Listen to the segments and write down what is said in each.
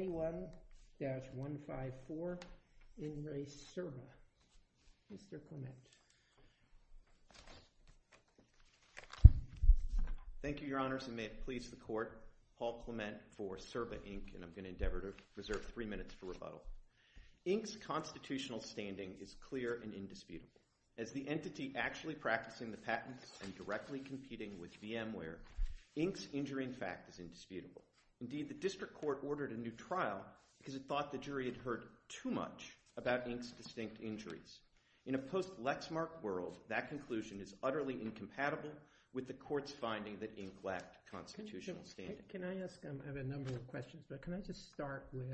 Thank you, Your Honors, and may it please the Court, Paul Clement for Cirba Inc., and I'm going to endeavor to reserve three minutes for rebuttal. Inc.'s constitutional standing is clear and indisputable. As the entity actually practicing the patents and directly competing with VMware, Inc.'s injury in fact is indisputable. Indeed, the District Court ordered a new trial because it thought the jury had heard too much about Inc.'s distinct injuries. In a post-lexmark world, that conclusion is utterly incompatible with the Court's finding that Inc. lacked constitutional standing. Can I ask, I have a number of questions, but can I just start with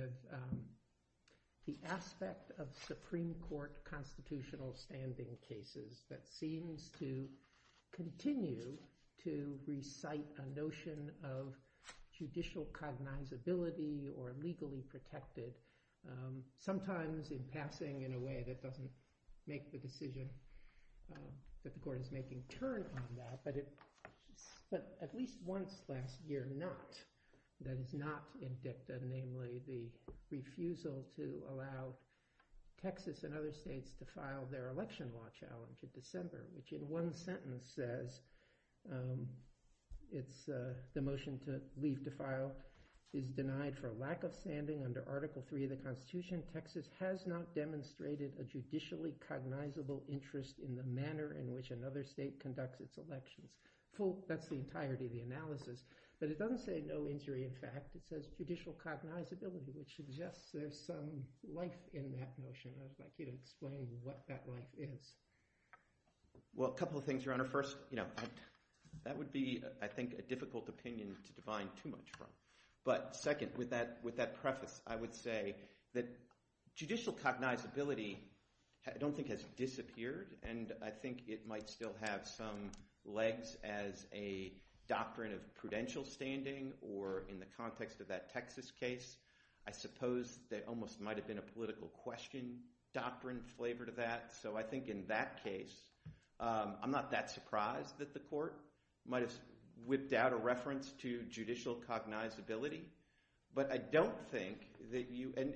the aspect of Supreme Sometimes in passing in a way that doesn't make the decision that the Court is making turn on that, but at least once last year not, that it's not in dicta, namely the refusal to allow Texas and other states to file their election law challenge in December. Which in one sentence says, the motion to leave to file is denied for lack of standing under Article III of the Constitution. Texas has not demonstrated a judicially cognizable interest in the manner in which another state conducts its elections. That's the entirety of the analysis. But it doesn't say no injury in fact. It says judicial cognizability, which suggests there's some life in that motion. I'd like you to explain what that life is. Well, a couple of things, Your Honor. First, that would be, I think, a difficult opinion to divine too much from. But second, with that preface, I would say that judicial cognizability I don't think has disappeared. And I think it might still have some legs as a doctrine of prudential standing or in the context of that Texas case. I suppose there almost might have been a political question doctrine flavored to that. So I think in that case, I'm not that surprised that the court might have whipped out a reference to judicial cognizability. But I don't think that you, and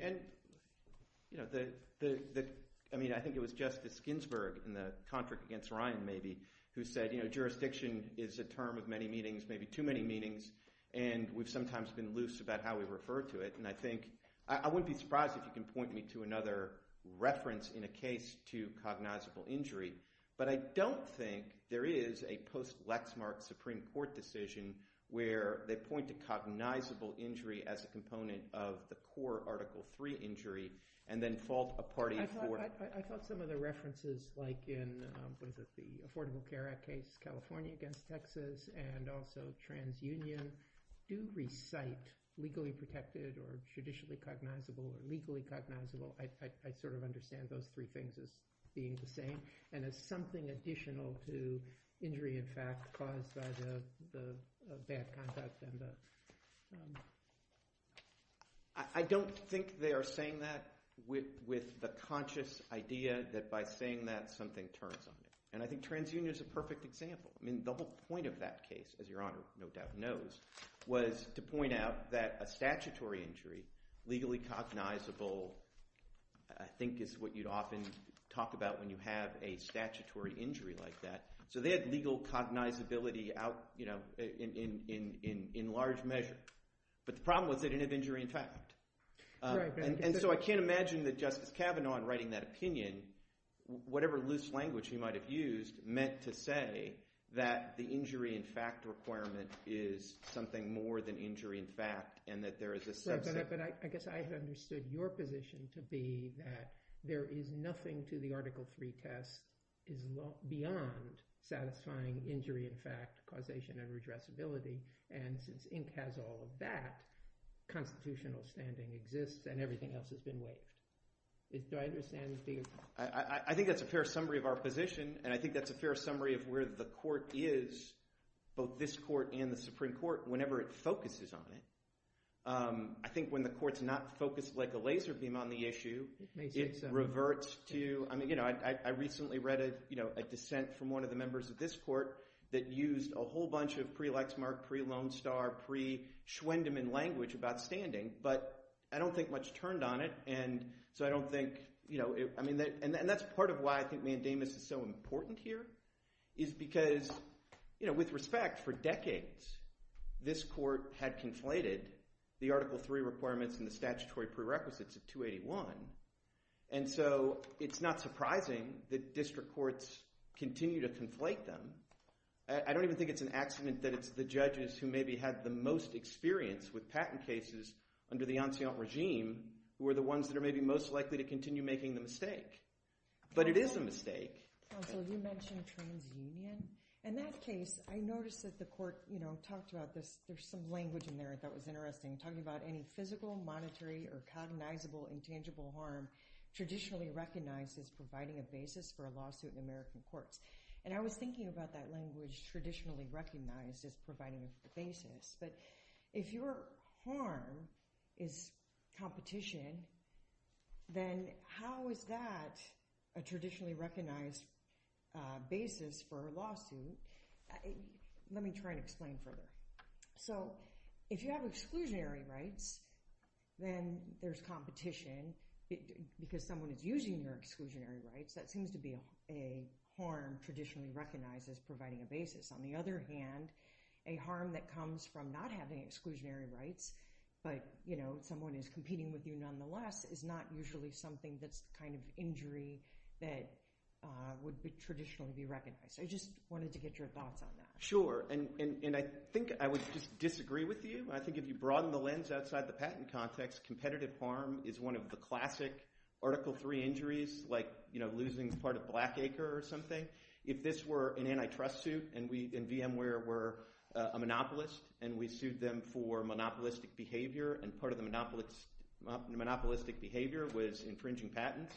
I mean, I think it was Justice Ginsburg in the contract against Ryan, maybe, who said, jurisdiction is a term of many meanings, maybe too many meanings. And we've sometimes been loose about how we refer to it. And I think I wouldn't be surprised if you can point me to another reference in a case to cognizable injury. But I don't think there is a post-lexmark Supreme Court decision where they point to cognizable injury as a component of the poor Article III injury and then fault a party for it. I thought some of the references like in the Affordable Care Act case, California against Texas, and also TransUnion do recite legally protected or judicially cognizable or legally cognizable. I sort of understand those three things as being the same. And as something additional to injury, in fact, caused by the bad conduct. I don't think they are saying that with the conscious idea that by saying that, something turns on you. And I think TransUnion is a perfect example. I mean, the whole point of that case, as Your Honor no doubt knows, was to point out that a statutory injury, legally cognizable, I think is what you'd often talk about when you have a statutory injury like that. So they had legal cognizability out in large measure. But the problem was they didn't have injury in fact. And so I can't imagine that Justice Kavanaugh in writing that opinion, whatever loose language he might have used, meant to say that the injury in fact requirement is something more than injury in fact. And that there is a subset. But I guess I have understood your position to be that there is nothing to the Article 3 test is beyond satisfying injury in fact causation and redressability. And since Inc. has all of that, constitutional standing exists and everything else is in wait. Do I understand? I think that's a fair summary of our position. And I think that's a fair summary of where the court is, both this court and the Supreme Court, whenever it focuses on it. I think when the court's not focused like a laser beam on the issue, it reverts to, I mean, I recently read a dissent from one of the members of this court that used a whole bunch of pre-Lexmark, pre-Lone Star, pre-Schwendemann language about standing. But I don't think much turned on it. And so I don't think, I mean, and that's part of why I think mandamus is so important here is because with respect, for decades this court had conflated the Article 3 requirements and the statutory prerequisites of 281. And so it's not surprising that district courts continue to conflate them. I don't even think it's an accident that it's the judges who maybe had the most experience with patent cases under the ancient regime who are the ones that are maybe most likely to continue making the mistake. But it is a mistake. Counsel, you mentioned TransUnion. In that case, I noticed that the court talked about this, there's some language in there that was interesting, talking about any physical, monetary, or cognizable intangible harm traditionally recognized as providing a basis for a lawsuit in American courts. And I was thinking about that language traditionally recognized as providing the basis. But if your harm is competition, then how is that a traditionally recognized basis for a lawsuit? Let me try and explain further. So if you have exclusionary rights, then there's competition. Because someone is using your exclusionary rights, that seems to be a harm traditionally recognized as providing a basis. On the other hand, a harm that comes from not having exclusionary rights, but someone is competing with you nonetheless, is not usually something that's kind of injury that would traditionally be recognized. I just wanted to get your thoughts on that. Sure. And I think I would just disagree with you. I think if you broaden the lens outside the patent context, competitive harm is one of the classic Article III injuries, like losing part of a black acre or something. If this were an antitrust suit, and VMware were a monopolist, and we sued them for monopolistic behavior, and part of the monopolistic behavior was infringing patents,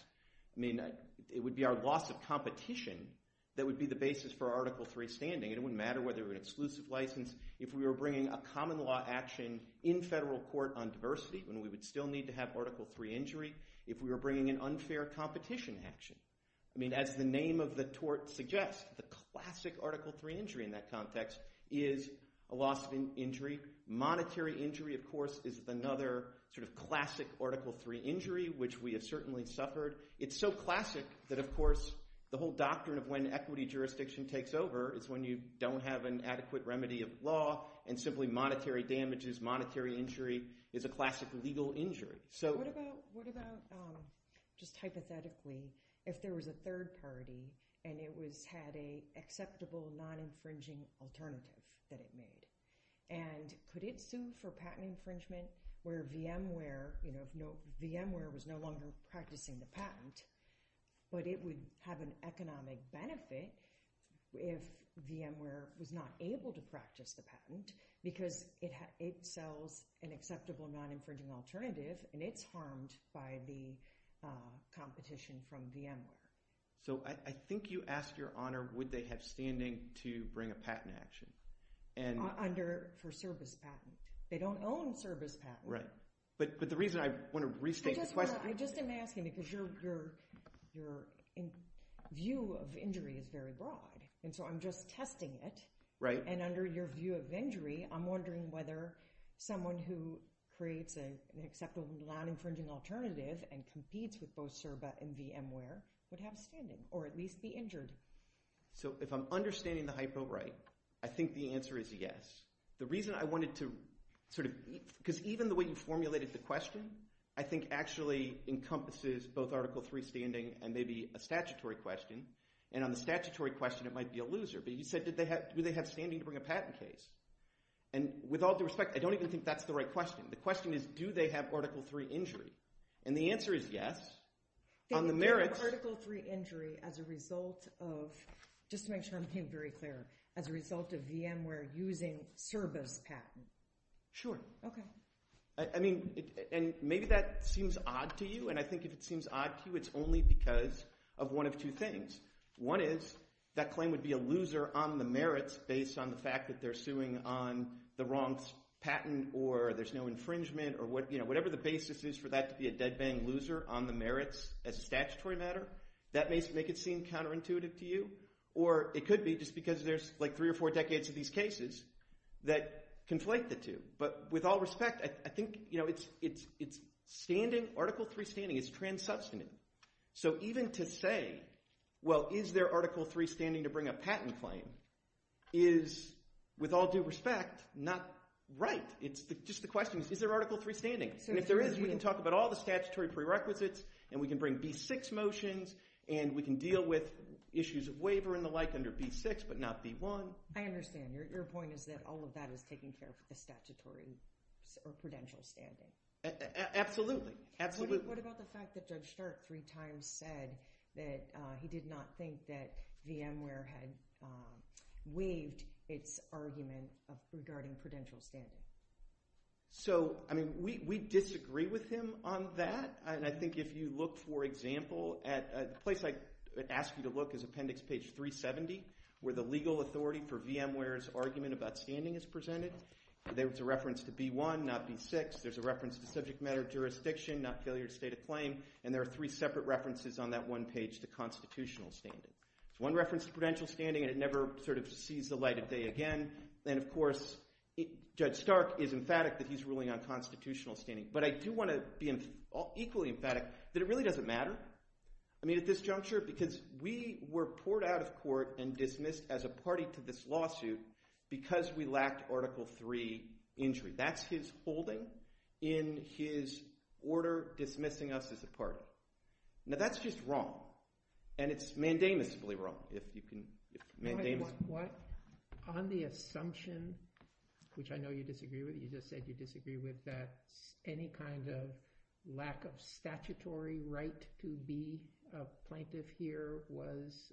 it would be our loss of competition that would be the basis for Article III standing. It wouldn't matter whether it was an exclusive license. If we were bringing a common law action in federal court on diversity, then we would still need to have Article III injury. If we were bringing an unfair competition action. I mean, as the name of the tort suggests, the classic Article III injury in that context is a loss of injury. Monetary injury, of course, is another sort of classic Article III injury, which we have certainly suffered. It's so classic that, of course, the whole doctrine of when equity jurisdiction takes over is when you don't have an adequate remedy of law, and simply monetary damages, monetary injury, is a classic legal injury. What about, just hypothetically, if there was a third party, and it had an acceptable non-infringing alternative that it made, and could it sue for patent infringement where VMware was no longer practicing the patent, but it would have an economic benefit if VMware was not able to practice the patent because it sells an acceptable non-infringing alternative, and it's harmed by the competition from VMware? So, I think you asked Your Honor would they have standing to bring a patent action. Under, for service patent. They don't own service patent. Right. But the reason I want to restate the question. I just am asking because your view of injury is very broad. And so, I'm just testing it. Right. And under your view of injury, I'm wondering whether someone who creates an acceptable non-infringing alternative and competes with both CERBA and VMware would have standing, or at least be injured. So, if I'm understanding the hypo right, I think the answer is yes. The reason I wanted to, sort of, because even the way you formulated the question, I think actually encompasses both Article III standing and maybe a statutory question. And on the statutory question, it might be a loser. But you said, do they have standing to bring a patent case? And with all due respect, I don't even think that's the right question. The question is, do they have Article III injury? And the answer is yes. On the merits. They have Article III injury as a result of, just to make sure I'm being very clear, as a result of VMware using CERBA's patent. Sure. Okay. I mean, and maybe that seems odd to you. And I think if it seems odd to you, it's only because of one of two things. One is, that claim would be a loser on the merits based on the fact that they're suing on the wrong patent or there's no infringement or whatever the basis is for that to be a dead-bang loser on the merits as a statutory matter. That may make it seem counterintuitive to you. Or it could be just because there's, like, three or four decades of these cases that conflate the two. But with all respect, I think, you know, it's standing, Article III standing, it's trans-substantive. So even to say, well, is there Article III standing to bring a patent claim is, with all due respect, not right. It's just the question, is there Article III standing? And if there is, we can talk about all the statutory prerequisites and we can bring B6 motions and we can deal with issues of waiver and the like under B6 but not B1. I understand. Your point is that all of that is taking care of the statutory or prudential standing. Absolutely. Absolutely. What about the fact that Doug Stark three times said that he did not think that VMware had waived its argument regarding prudential standing? So, I mean, we disagree with him on that. And I think if you look, for example, at a place I ask you to look is Appendix page 370 where the legal authority for VMware's argument about standing is presented. There's a reference to B1, not B6. There's a reference to subject matter jurisdiction, not failure to state a claim. And there are three separate references on that one page to constitutional standing. One reference to prudential standing and it never sort of sees the light of day again. And, of course, Judge Stark is emphatic that he's ruling on constitutional standing. But I do want to be equally emphatic that it really doesn't matter. I mean, at this juncture, because we were poured out of court and dismissed as a party to this lawsuit because we lacked Article 3 injury. That's his holding in his order dismissing us as a party. Now, that's just wrong. And it's mandamus-ably wrong. On the assumption, which I know you disagree with, you just said you disagree with, that any kind of lack of statutory right to be a plaintiff here was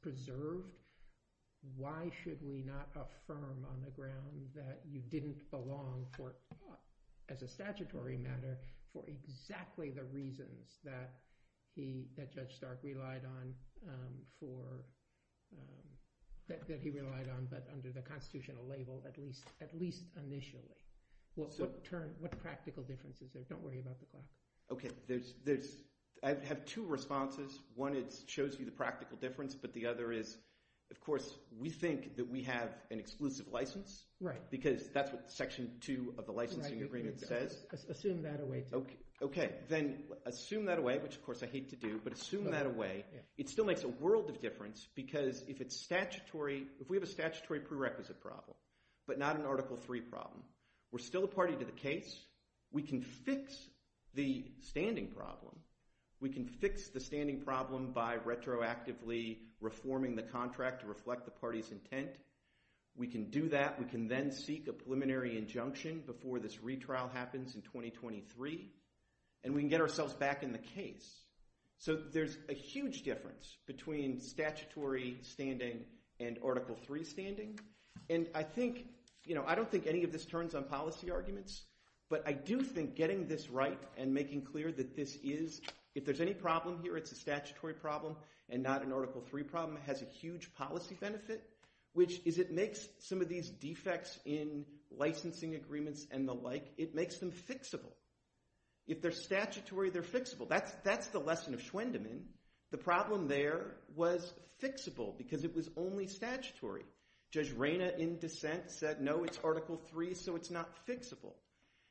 preserved. Why should we not affirm on the ground that you didn't belong as a statutory matter for exactly the reasons that Judge Stark relied on, that he relied on but under the constitutional label at least initially? What practical difference is there? Don't worry about the question. Okay. I have two responses. One is it shows you the practical difference, but the other is, of course, we think that we have an exclusive license because that's what Section 2 of the licensing agreement says. Assume that away. Okay. Then assume that away, which, of course, I hate to do, but assume that away. It still makes a world of difference because if we have a statutory prerequisite problem but not an Article 3 problem, we're still a party to the case. We can fix the standing problem. We can fix the standing problem by retroactively reforming the contract to reflect the party's intent. We can do that. We can then seek a preliminary injunction before this retrial happens in 2023, and we can get ourselves back in the case. So there's a huge difference between statutory standing and Article 3 standing, and I think – I don't think any of this turns on policy arguments, but I do think getting this right and making clear that this is – if there's any problem here, it's a statutory problem and not an Article 3 problem. It has a huge policy benefit, which is it makes some of these defects in licensing agreements and the like, it makes them fixable. If they're statutory, they're fixable. That's the lesson of Schwendemann. The problem there was fixable because it was only statutory. Judge Reyna in dissent said, no, it's Article 3, so it's not fixable.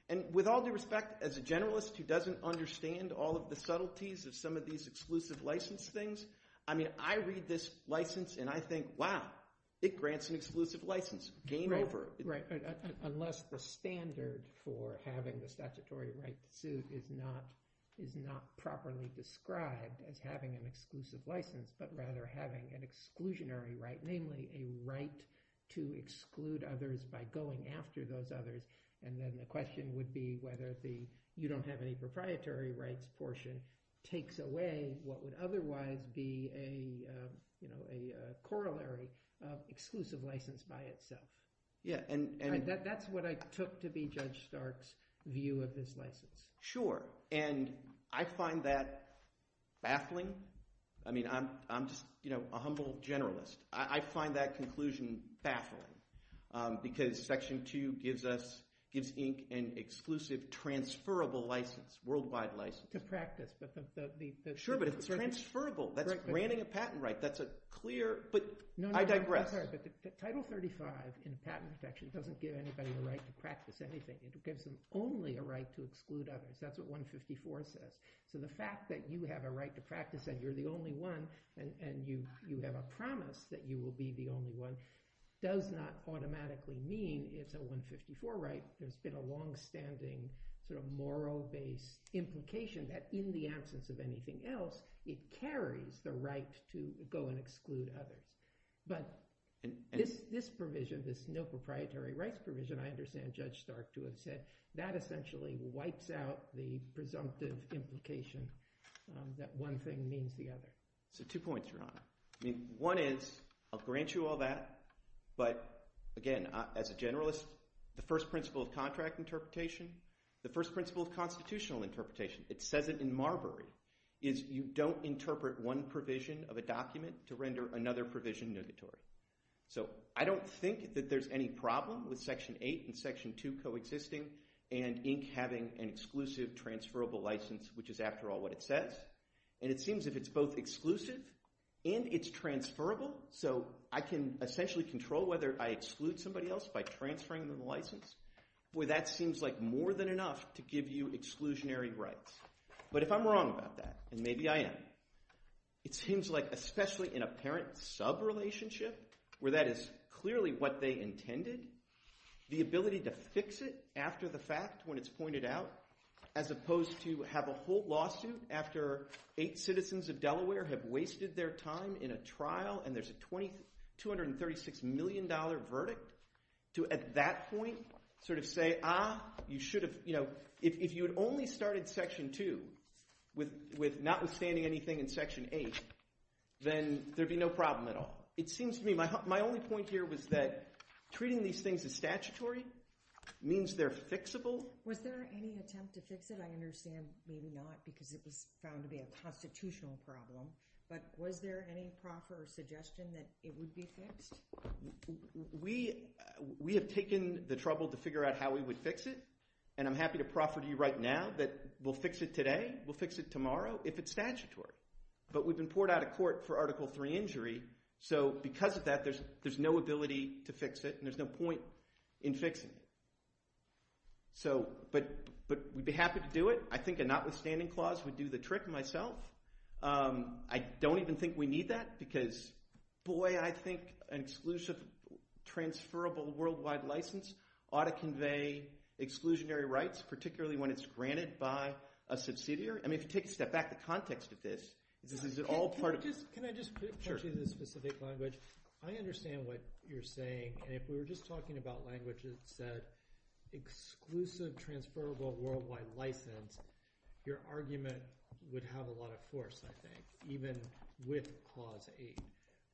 And with all due respect, as a generalist who doesn't understand all of the subtleties of some of these exclusive license things, I mean I read this license and I think, wow, it grants an exclusive license. Game over. Unless the standard for having the statutory right to suit is not properly described as having an exclusive license, but rather having an exclusionary right, namely a right to exclude others by going after those others. And then the question would be whether the you don't have any proprietary rights portion takes away what would otherwise be a corollary of exclusive license by itself. That's what I took to be Judge Stark's view of this license. Sure, and I find that baffling. I mean I'm just a humble generalist. I find that conclusion baffling because Section 2 gives ink an exclusive transferable license, worldwide license. Sure, but it's transferable. That's granting a patent right. That's a clear, but I digress. Title 35 in the patent section doesn't give anybody the right to practice anything. It gives them only a right to exclude others. That's what 154 says. So the fact that you have a right to practice and you're the only one and you have a promise that you will be the only one does not automatically mean it's a 154 right. There's been a longstanding sort of moral base implication that in the absence of anything else, it carries the right to go and exclude others. But this provision, this no proprietary rights provision, I understand Judge Stark to have said, that essentially wipes out the presumptive implication that one thing means the other. So two points, Your Honor. One is, I'll grant you all that, but again, as a generalist, the first principle of contract interpretation, the first principle of constitutional interpretation, it says it in Marbury, is you don't interpret one provision of a document to render another provision notatory. So I don't think that there's any problem with Section 8 and Section 2 coexisting and ink having an exclusive transferable license, which is after all what it says. And it seems if it's both exclusive and it's transferable, so I can essentially control whether I exclude somebody else by transferring them the license, where that seems like more than enough to give you exclusionary rights. But if I'm wrong about that, and maybe I am, it seems like especially in a parent subrelationship where that is clearly what they intended, the ability to fix it after the fact when it's pointed out as opposed to have a whole lawsuit after eight citizens of Delaware have wasted their time in a trial and there's a $236 million verdict to at that point sort of say, ah, you should have – if you had only started Section 2 with notwithstanding anything in Section 8, then there'd be no problem at all. It seems to me – my only point here was that treating these things as statutory means they're fixable. So was there any attempt to fix it? I understand maybe not because it was found to be a constitutional problem, but was there any proper suggestion that it would be fixed? We have taken the trouble to figure out how we would fix it, and I'm happy to proffer to you right now that we'll fix it today. We'll fix it tomorrow if it's statutory. But we've been poured out of court for Article 3 injury, so because of that there's no ability to fix it and there's no point in fixing it. But we'd be happy to do it. I think a notwithstanding clause would do the trick myself. I don't even think we need that because, boy, I think an exclusive transferable worldwide license ought to convey exclusionary rights, particularly when it's granted by a subsidiary. I mean if you take a step back, the context of this is it all part of – Can I just put it in a specific language? I understand what you're saying, and if we were just talking about languages that said exclusive transferable worldwide license, your argument would have a lot of force, I think, even with Clause 8.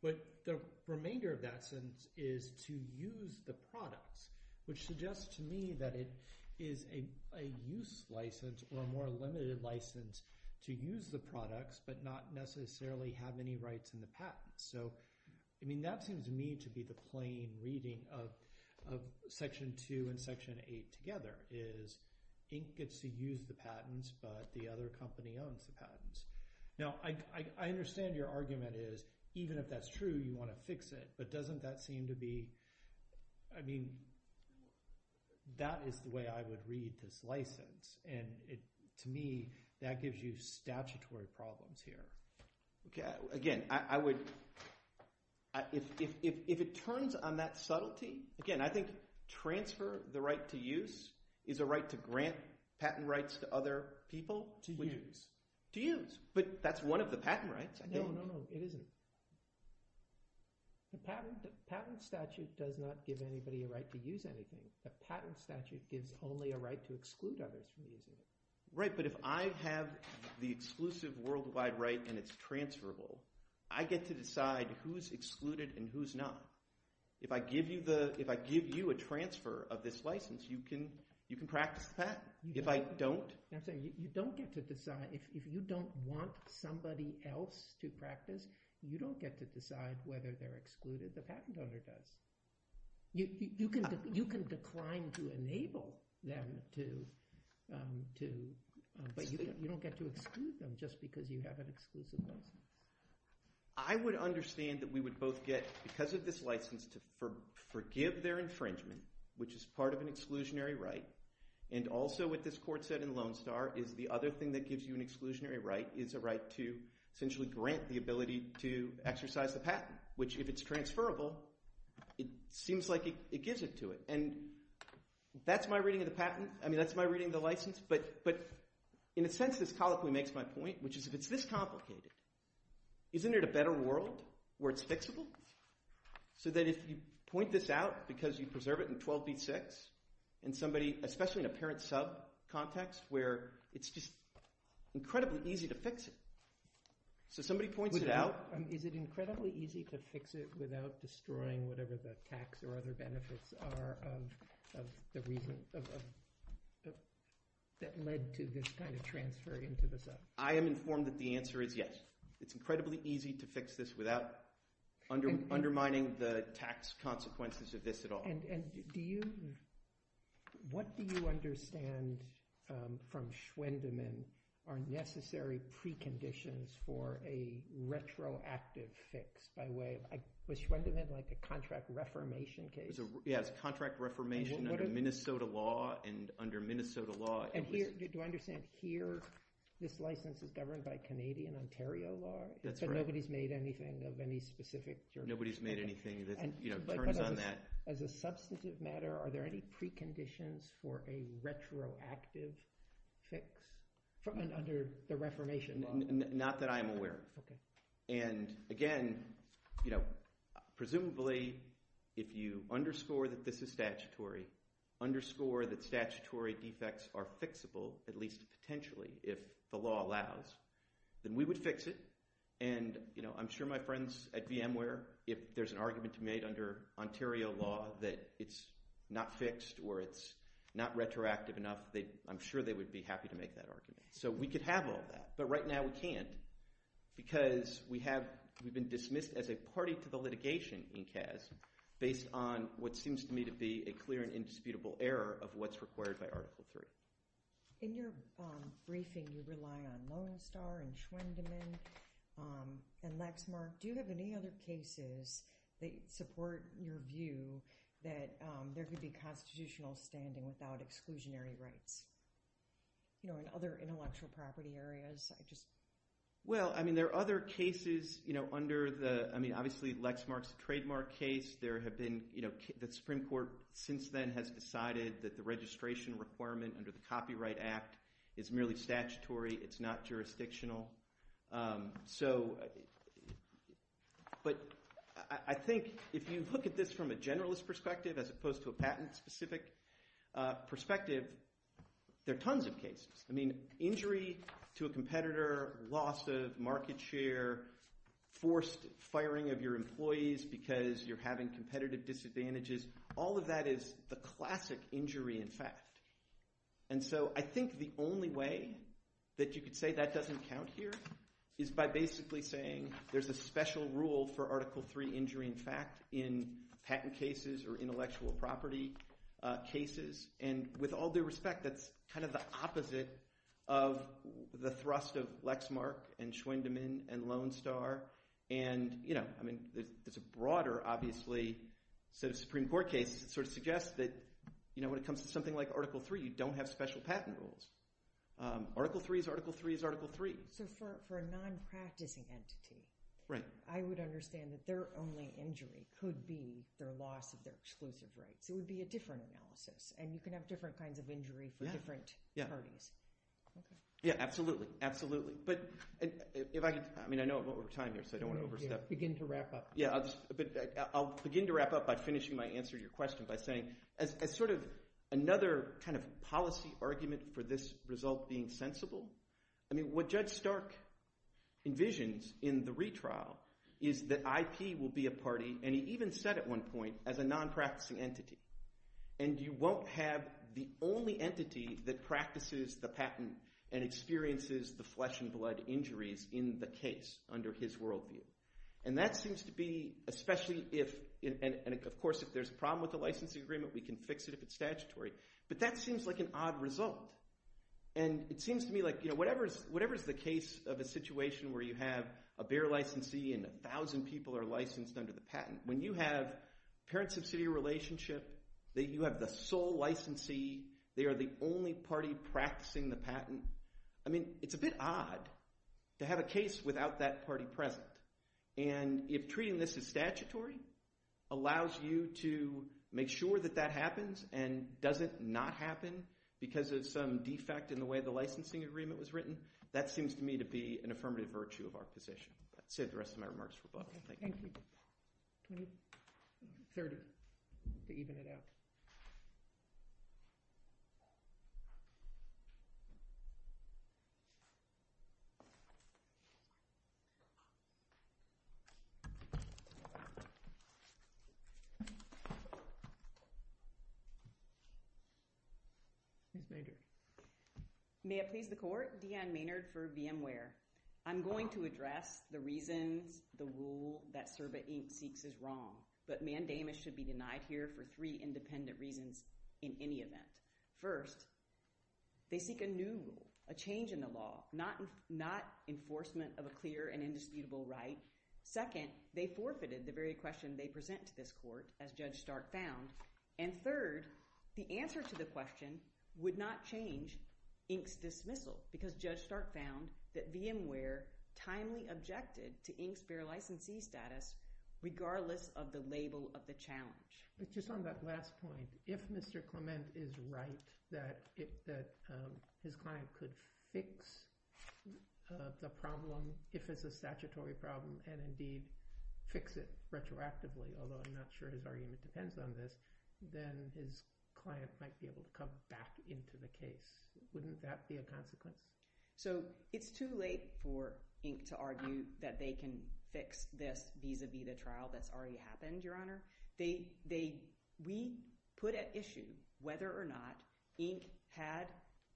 But the remainder of that sentence is to use the products, which suggests to me that it is a use license or a more limited license to use the products but not necessarily have any rights in the patents. So, I mean that seems to me to be the plain reading of Section 2 and Section 8 together, is Inc. gets to use the patents but the other company owns the patents. Now I understand your argument is even if that's true, you want to fix it. But doesn't that seem to be – I mean that is the way I would read this license. To me, that gives you statutory problems here. Again, I would – if it turns on that subtlety, again, I think transfer the right to use is a right to grant patent rights to other people. To use. To use, but that's one of the patent rights. No, no, no, it isn't. The patent statute does not give anybody a right to use anything. The patent statute gives only a right to exclude others from using it. Right, but if I have the exclusive worldwide right and it's transferable, I get to decide who's excluded and who's not. If I give you a transfer of this license, you can practice the patent. If I don't – You don't get to decide – if you don't want somebody else to practice, you don't get to decide whether they're excluded. The patent owner does. You can decline to enable them to – but you don't get to exclude them just because you have an exclusive license. I would understand that we would both get, because of this license, to forgive their infringement, which is part of an exclusionary right, and also what this court said in Lone Star is the other thing that gives you an exclusionary right is a right to essentially grant the ability to exercise the patent, which if it's transferable, it seems like it gives it to it. And that's my reading of the patent. I mean that's my reading of the license. But in a sense, this colloquy makes my point, which is if it's this complicated, isn't it a better world where it's fixable? So that if you point this out because you preserve it in 12b-6 and somebody – especially in a parent-sub context where it's just incredibly easy to fix it. So somebody points it out. Is it incredibly easy to fix it without destroying whatever the tax or other benefits are of the reason that led to this kind of transfer into the sub? I am informed that the answer is yes. It's incredibly easy to fix this without undermining the tax consequences of this at all. And do you – what do you understand from Schwendeman are necessary preconditions for a retroactive fix by way of – was Schwendeman like a contract reformation case? Yeah, it's contract reformation under Minnesota law and under Minnesota law – And here – do I understand here this license is governed by Canadian Ontario law? That's right. But nobody's made anything of any specific – Nobody's made anything that turns on that. As a substantive matter, are there any preconditions for a retroactive fix under the reformation law? Not that I am aware of. And again, presumably if you underscore that this is statutory, underscore that statutory defects are fixable, at least potentially if the law allows, then we would fix it. And I'm sure my friends at VMware, if there's an argument made under Ontario law that it's not fixed or it's not retroactive enough, I'm sure they would be happy to make that argument. So we could have all that. But right now we can't because we have – we've been dismissed as a party to the litigation in CAS based on what seems to me to be a clear and indisputable error of what's required by Article 3. In your briefing, you rely on Lone Star and Schwendemann and Lexmark. Do you have any other cases that support your view that there could be constitutional standing without exclusionary rights in other intellectual property areas? Well, I mean there are other cases under the – I mean obviously Lexmark is a trademark case. There have been – the Supreme Court since then has decided that the registration requirement under the Copyright Act is merely statutory. It's not jurisdictional. So – but I think if you look at this from a generalist perspective as opposed to a patent-specific perspective, there are tons of cases. I mean injury to a competitor, loss of market share, forced firing of your employees because you're having competitive disadvantages, all of that is the classic injury in fact. And so I think the only way that you could say that doesn't count here is by basically saying there's a special rule for Article 3 injury in fact in patent cases or intellectual property cases. And with all due respect, that's kind of the opposite of the thrust of Lexmark and Schwendemann and Lone Star. And I mean there's a broader obviously – so the Supreme Court case sort of suggests that when it comes to something like Article 3, you don't have special patent rules. Article 3 is Article 3 is Article 3. So for a non-practicing entity, I would understand that their only injury could be their loss of their exclusive rights. It would be a different analysis, and you can have different kinds of injury for different parties. Yeah, absolutely, absolutely. But if I could – I mean I know I'm over time here so I don't want to overstep. Begin to wrap up. Yeah, but I'll begin to wrap up by finishing my answer to your question by saying as sort of another kind of policy argument for this result being sensible, I mean what Judge Stark envisions in the retrial is that IP will be a party. And he even said at one point as a non-practicing entity, and you won't have the only entity that practices the patent and experiences the flesh and blood injuries in the case under his worldview. And that seems to be – especially if – and of course if there's a problem with the licensing agreement, we can fix it if it's statutory. But that seems like an odd result. And it seems to me like whatever is the case of a situation where you have a bare licensee and 1,000 people are licensed under the patent, when you have parent-subsidiary relationship, that you have the sole licensee, they are the only party practicing the patent, I mean it's a bit odd to have a case without that party present. And if treating this as statutory allows you to make sure that that happens and doesn't not happen because of some defect in the way the licensing agreement was written, that seems to me to be an affirmative virtue of our position. That's it. The rest of my remarks. Thank you. Can we start to even it out? Thank you. May it please the court, Deanne Maynard for VMware. I'm going to address the reasons the rule that CERBA 8 seeks is wrong, but mandamus should be denied here for three independent reasons in any event. First, they seek a new rule, a change in the law, not enforcement of a clear and indisputable right. Second, they forfeited the very question they present to this court, as Judge Stark found. And third, the answer to the question would not change Inc's dismissal because Judge Stark found that VMware timely objected to Inc's fair licensee status, regardless of the label of the challenge. Just on that last point, if Mr. Clement is right that his client could fix the problem, if it's a statutory problem, and indeed fix it retroactively, although I'm not sure his argument depends on this, then his client might be able to come back into the case. Wouldn't that be a consequence? So it's too late for Inc to argue that they can fix this vis-a-vis the trial that's already happened, Your Honor. We put at issue whether or not Inc had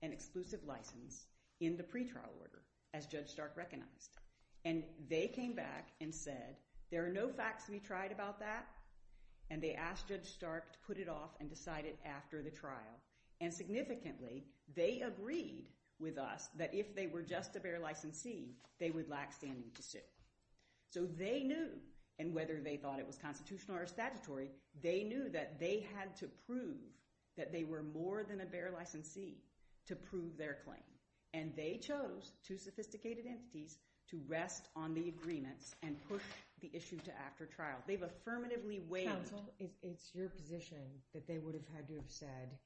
an exclusive license in the pretrial order, as Judge Stark recognized. And they came back and said, there are no facts to be tried about that. And they asked Judge Stark to put it off and decide it after the trial. And significantly, they agreed with us that if they were just a bare licensee, they would lack standing to sue. So they knew, and whether they thought it was constitutional or statutory, they knew that they had to prove that they were more than a bare licensee to prove their claim. And they chose two sophisticated entities to rest on the agreements and push the issue to after trial. Counsel, it's your position that they would have had to have said,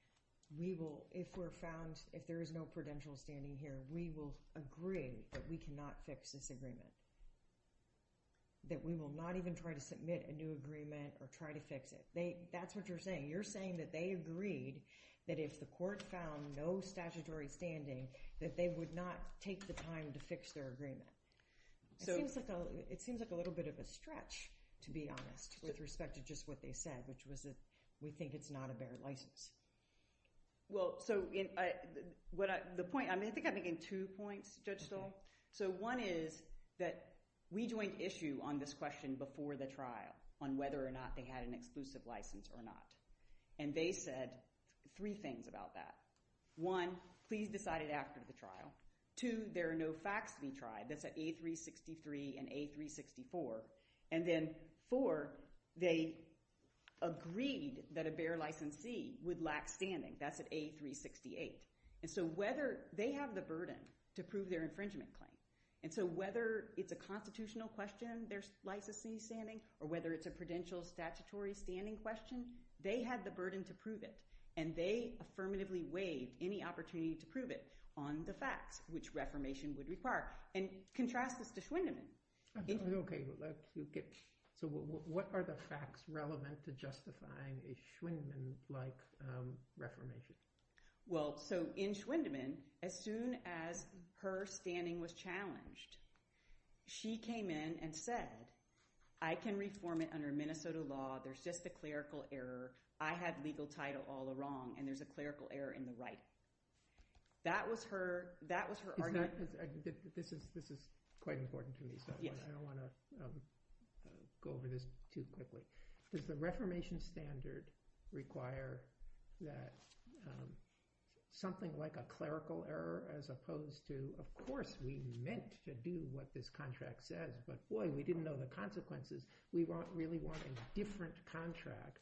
if there is no prudential standing here, we will agree that we cannot fix this agreement. That we will not even try to submit a new agreement or try to fix it. That's what you're saying. You're saying that they agreed that if the court found no statutory standing, that they would not take the time to fix their agreement. It seems like a little bit of a stretch, to be honest, with respect to just what they said, which was that we think it's not a bare license. I think I'm making two points, Judge Stahl. So one is that we joined issue on this question before the trial on whether or not they had an exclusive license or not. And they said three things about that. One, please decide it after the trial. Two, there are no facts to be tried. That's at A363 and A364. And then four, they agreed that a bare licensee would lack standing. That's at A368. And so they have the burden to prove their infringement claim. And so whether it's a constitutional question, their licensing standing, or whether it's a prudential statutory standing question, they had the burden to prove it. And they affirmatively waived any opportunity to prove it on the facts which reformation would require. And contrast this to Schwindemann. Okay. So what are the facts relevant to justifying a Schwindemann-like reformation? Well, so in Schwindemann, as soon as her standing was challenged, she came in and said, I can reform it under Minnesota law. There's just a clerical error. I have legal title all along, and there's a clerical error in the right. That was her argument. This is quite important to me, so I don't want to go over this too quickly. Does the reformation standard require that something like a clerical error as opposed to, of course, we meant to do what this contract said, but boy, we didn't know the consequences. We really want a different contract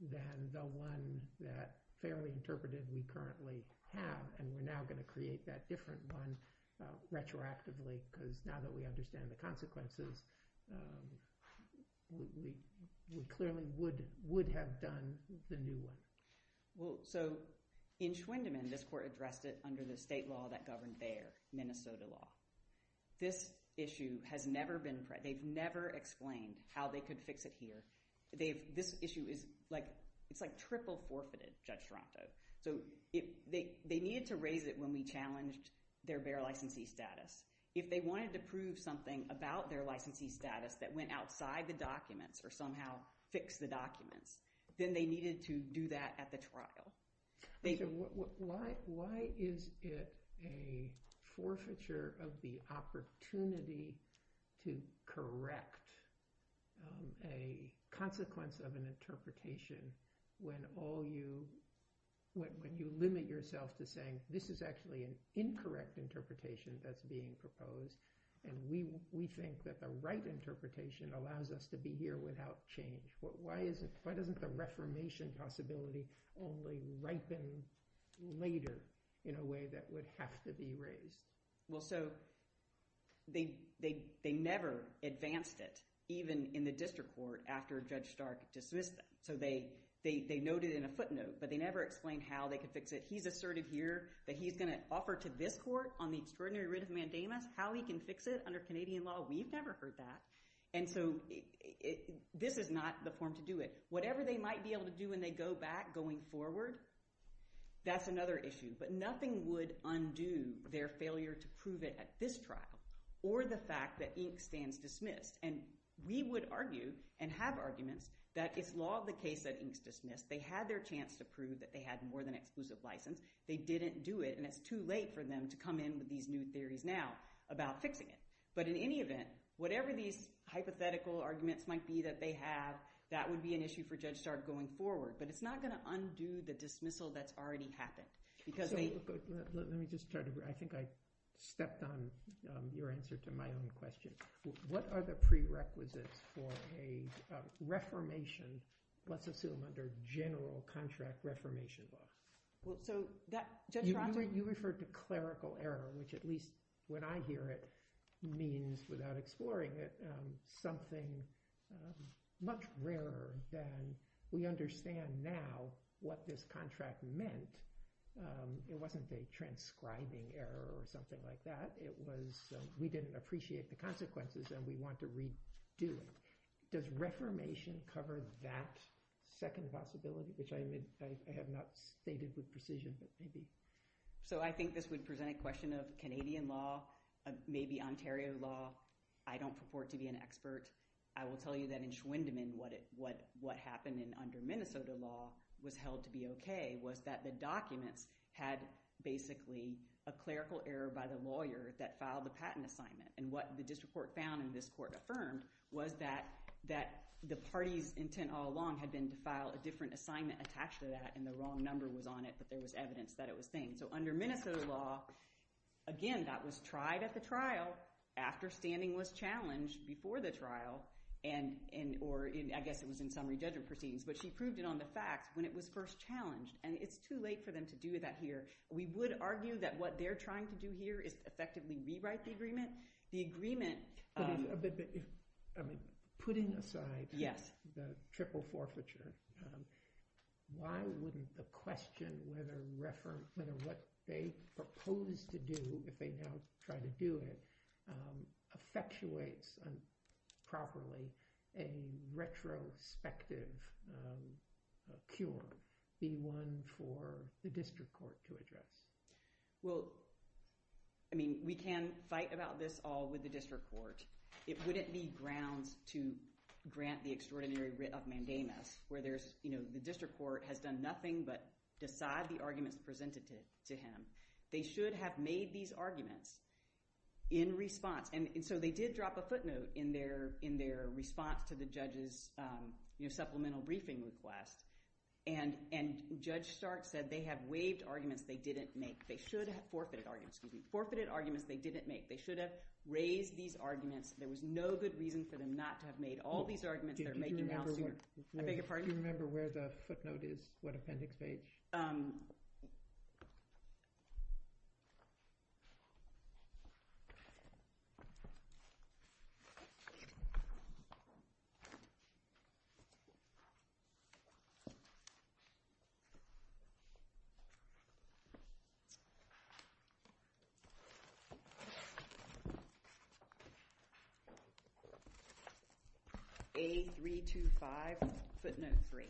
than the one that fairly interpreted we currently have. And we're now going to create that different one retroactively, because now that we understand the consequences, we clearly would have done the new one. So in Schwindemann, this court addressed it under the state law that governed there, Minnesota law. This issue has never been – they've never explained how they could fix it here. This issue is like – it's like triple forfeited, Judge Toronto. So they needed to raise it when we challenged their bare licensee status. If they wanted to prove something about their licensee status that went outside the documents or somehow fixed the documents, then they needed to do that at the trial. So why is it a forfeiture of the opportunity to correct a consequence of an interpretation when all you – when you limit yourself to saying this is actually an incorrect interpretation that's being proposed, and we think that the right interpretation allows us to be here without change? Why is it – why doesn't the reformation possibility only ripen later in a way that would have to be raised? Well, so they never advanced it even in the district court after Judge Stark dismissed them. So they noted it in a footnote, but they never explained how they could fix it. He's asserted here that he's going to offer to this court on the extraordinary writ of mandamus how he can fix it under Canadian law. We've never heard that. And so this is not the form to do it. Whatever they might be able to do when they go back going forward, that's another issue. But nothing would undo their failure to prove it at this trial or the fact that Inc. stands dismissed. And we would argue and have arguments that it's law of the case that Inc. is dismissed. They had their chance to prove that they had more than an exclusive license. They didn't do it, and it's too late for them to come in with these new theories now about fixing it. But in any event, whatever these hypothetical arguments might be that they have, that would be an issue for Judge Stark going forward. But it's not going to undo the dismissal that's already happened. Let me just try to – I think I stepped on your answer to my own question. What are the prerequisites for a reformation, let's assume under general contract reformation law? You referred to clerical error, which at least when I hear it means, without exploring it, something much rarer than we understand now what this contract meant. It wasn't a transcribing error or something like that. It was we didn't appreciate the consequences and we want to redo them. Does reformation cover that second possibility, which I have not stated with precision, but maybe. So I think this would present a question of Canadian law, maybe Ontario law. I don't purport to be an expert. I will tell you that in Schwindemann what happened under Minnesota law was held to be okay was that the documents had basically a clerical error by the lawyer that filed the patent assignment. And what the district court found and this court affirmed was that the party's intent all along had been to file a different assignment attached to that and the wrong number was on it, but there was evidence that it was thing. So under Minnesota law, again, that was tried at the trial after standing was challenged before the trial or I guess it was in summary judgment proceedings, but she proved it on the facts when it was first challenged. And it's too late for them to do that here. We would argue that what they're trying to do here is effectively rewrite the agreement. The agreement- But putting aside the triple forfeiture, why wouldn't the question whether what they proposed to do if they now try to do it effectuates properly a retrospective cure be one for the district court to address? Well, I mean, we can fight about this all with the district court. It wouldn't be grounds to grant the extraordinary writ of mandamus where there's, you know, the district court has done nothing but decide the arguments presented to him. They should have made these arguments in response. And so they did drop a footnote in their response to the judge's supplemental briefing request. And Judge Stark said they have waived arguments they didn't make. They should have forfeited arguments. Forfeited arguments they didn't make. They should have raised these arguments. There was no good reason for them not to have made all these arguments. Do you remember where the footnote is, what appendix page? Um... A325 footnote 3.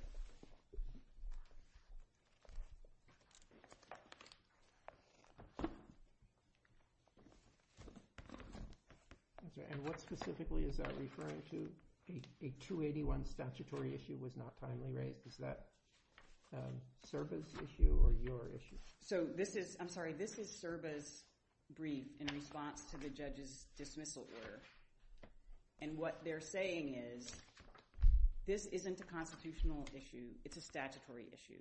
Okay. And what specifically is that referring to? A 281 statutory issue was not timely raised. Is that SRBA's issue or your issue? So this is, I'm sorry, this is SRBA's brief in response to the judge's dismissal order. And what they're saying is this isn't a constitutional issue. It's a statutory issue.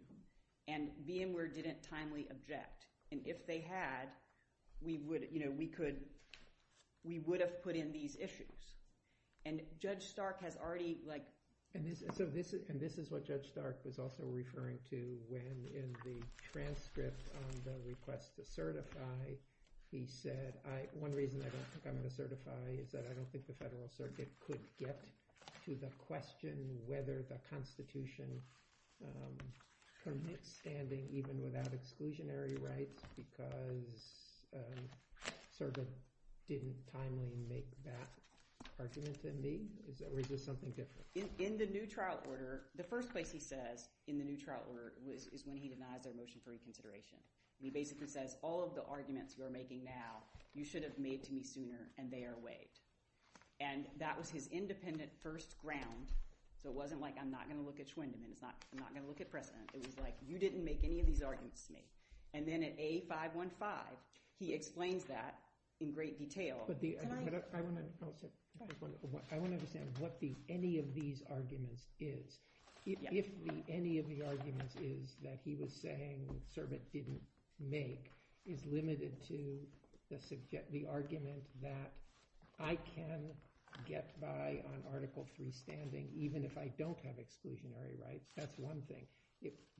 And VMware didn't timely object. And if they had, we would, you know, we could, we would have put in these issues. And Judge Stark has already, like... And this is what Judge Stark is also referring to when in the transcript on the request to certify, he said, one reason I don't think I'm going to certify is that I don't think the Federal Circuit could get to the question whether the Constitution permits standing even without exclusionary rights because SRBA didn't timely make that argument in me, or is this something different? In the new trial order, the first place he says in the new trial order is when he denies our motion for reconsideration. He basically says all of the arguments you're making now, you should have made to me sooner, and they are waived. And that was his independent first ground. So it wasn't like I'm not going to look at Schwindemann, I'm not going to look at precedent. It was like you didn't make any of these arguments to me. And then at A515, he explains that in great detail. But I want to understand what the any of these arguments is. If any of the arguments is that he was saying SRBA didn't make is limited to the argument that I can get by on Article 3 standing even if I don't have exclusionary rights. That's one thing.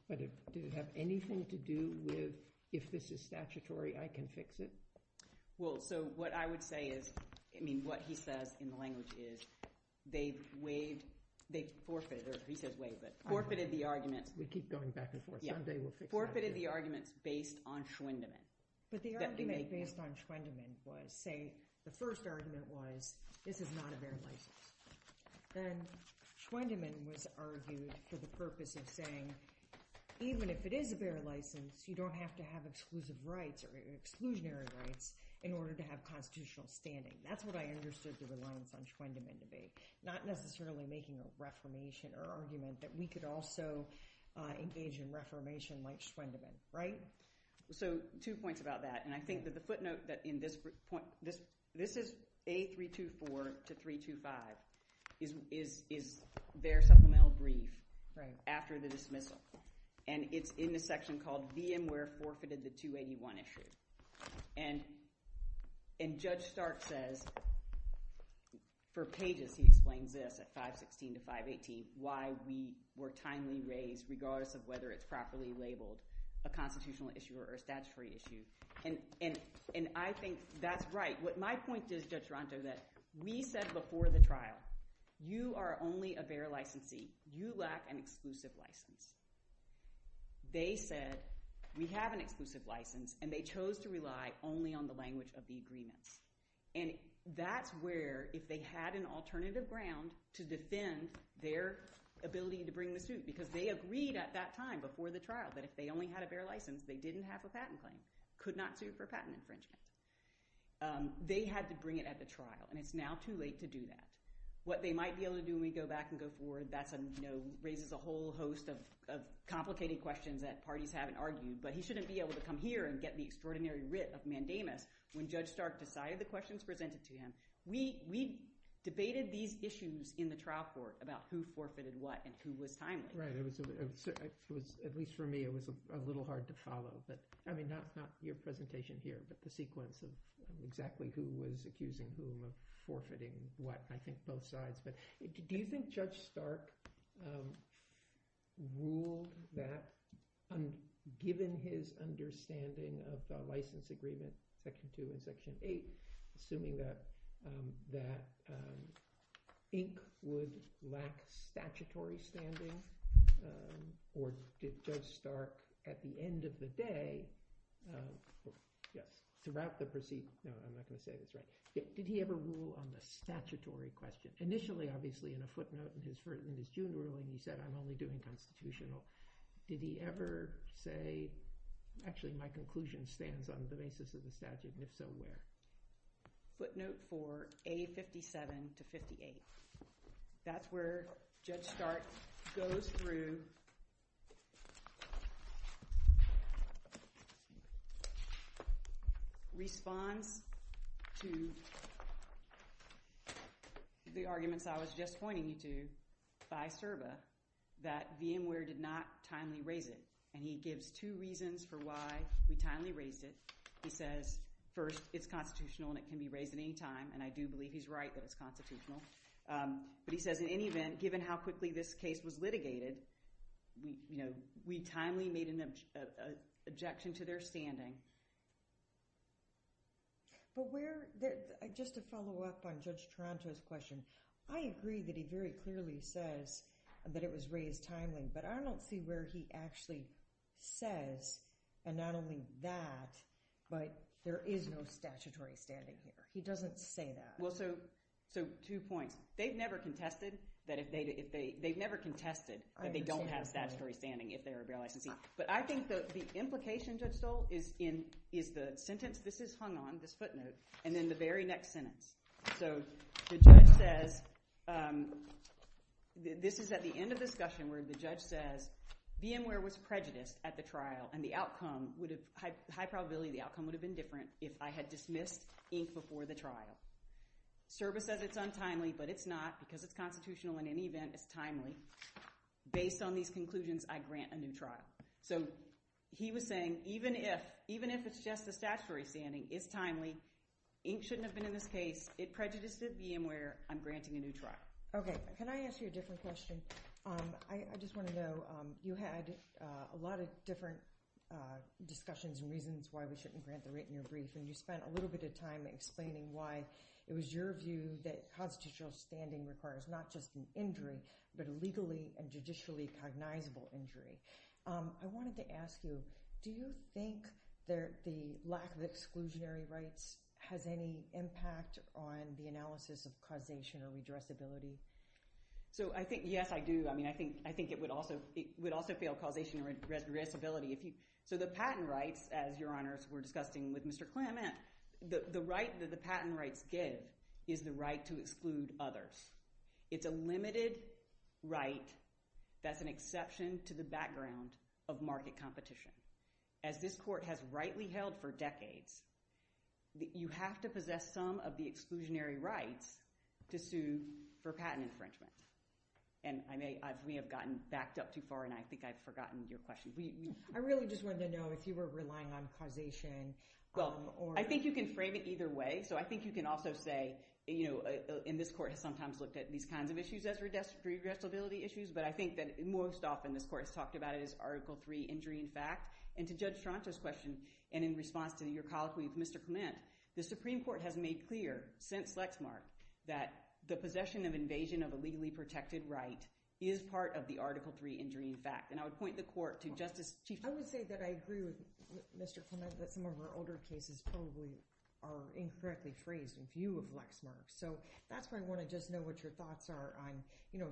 But did it have anything to do with if this is statutory, I can fix it? Well, so what I would say is, I mean, what he says in the language is they waived, they forfeited, or he says waived, but forfeited the arguments. We keep going back and forth. Forfeited the arguments based on Schwindemann. But the argument based on Schwindemann was, say, the first argument was this is not a bare license. Then Schwindemann was argued for the purpose of saying, even if it is a bare license, you don't have to have exclusive rights or exclusionary rights in order to have constitutional standing. That's what I understood the reliance on Schwindemann to be. Not necessarily making a reformation or argument that we could also engage in reformation like Schwindemann, right? So two points about that. And I think that the footnote that in this point – this is A324 to 325 is their supplemental brief after the dismissal. And it's in the section called VMware forfeited the 281 issue. And Judge Stark says – for pages he explains this at 516 to 518, why we were timely raised regardless of whether it's properly labeled a constitutional issue or a statutory issue. And I think that's right. My point is, Judge Duranto, that we said before the trial, you are only a bare licensee. You lack an exclusive license. They said, we have an exclusive license, and they chose to rely only on the language of the agreements. And that's where, if they had an alternative ground to defend their ability to bring the suit, because they agreed at that time before the trial that if they only had a bare license, they didn't have a patent claim. Could not sue for patent infringement. They had to bring it at the trial, and it's now too late to do that. What they might be able to do when we go back and go forward, that raises a whole host of complicated questions that parties haven't argued. But he shouldn't be able to come here and get the extraordinary writ of mandamus when Judge Stark decided the questions presented to him. We debated these issues in the trial court about who forfeited what and who was timely. At least for me, it was a little hard to follow. I mean, not your presentation here, but the sequence of exactly who was accusing whom of forfeiting what. I think both sides. Do you think Judge Stark ruled that, given his understanding of the license agreement, section 2 and section 8, assuming that ink would lack statutory standing? Or did Judge Stark, at the end of the day, throughout the proceedings, no, I'm not going to say this. But did he ever rule on the statutory question? Initially, obviously, in a footnote in his jury ruling, he said, I'm only doing constitutional. Did he ever say, actually, my conclusion stands on the basis of the statute, and if so, where? Footnote for A57 to 58. That's where Judge Stark goes through, responds to the arguments I was just pointing you to by CERBA, that VMware did not timely raise it. And he gives two reasons for why we timely raised it. He says, first, it's constitutional, and it can be raised at any time. And I do believe he's right that it's constitutional. But he says, in any event, given how quickly this case was litigated, we timely made an objection to their standing. Just to follow up on Judge Taranto's question, I agree that he very clearly says that it was raised timely. But I don't see where he actually says, and not only that, but there is no statutory standing here. He doesn't say that. Well, so two points. They've never contested that they don't have statutory standing if they are a bare licensee. But I think that the implication, Judge Stoll, is the sentence, this is hung on, this footnote, and then the very next sentence. So the judge says – this is at the end of the discussion where the judge says, VMware was prejudiced at the trial, and the outcome would have – high probability the outcome would have been different if I had dismissed Inc. before the trial. CERBA says it's untimely, but it's not because it's constitutional. In any event, it's timely. Based on these conclusions, I grant a new trial. So he was saying, even if it's just a statutory standing, it's timely. Inc. shouldn't have been in this case. It prejudiced at VMware. I'm granting a new trial. Okay. Can I ask you a different question? I just want to know, you had a lot of different discussions and reasons why we shouldn't grant the written or brief, and you spent a little bit of time explaining why it was your view that constitutional standing requires not just an injury, but a legally and judicially cognizable injury. I wanted to ask you, do you think the lack of exclusionary rights has any impact on the analysis of causation or redressability? So I think – yes, I do. I mean I think it would also fail causation or redressability. So the patent rights, as Your Honors were discussing with Mr. Clement, the right that the patent rights give is the right to exclude others. It's a limited right that's an exception to the background of market competition. As this court has rightly held for decades, you have to possess some of the exclusionary rights to sue for patent infringement. And we have gotten backed up too far, and I think I've forgotten your question. I really just wanted to know if you were relying on causation. Well, I think you can frame it either way. So I think you can also say – and this court has sometimes looked at these kinds of issues as redressability issues, but I think that most often this court has talked about it as Article III injury in fact. And to Judge Toronto's question, and in response to your colloquy with Mr. Clement, the Supreme Court has made clear since Lexmark that the possession of invasion of a legally protected right is part of the Article III injury in fact. And I would point the court to Justice Chief – I would say that I agree with Mr. Clement that some of our older cases probably are incorrectly phrased in view of Lexmark. So that's why I want to just know what your thoughts are on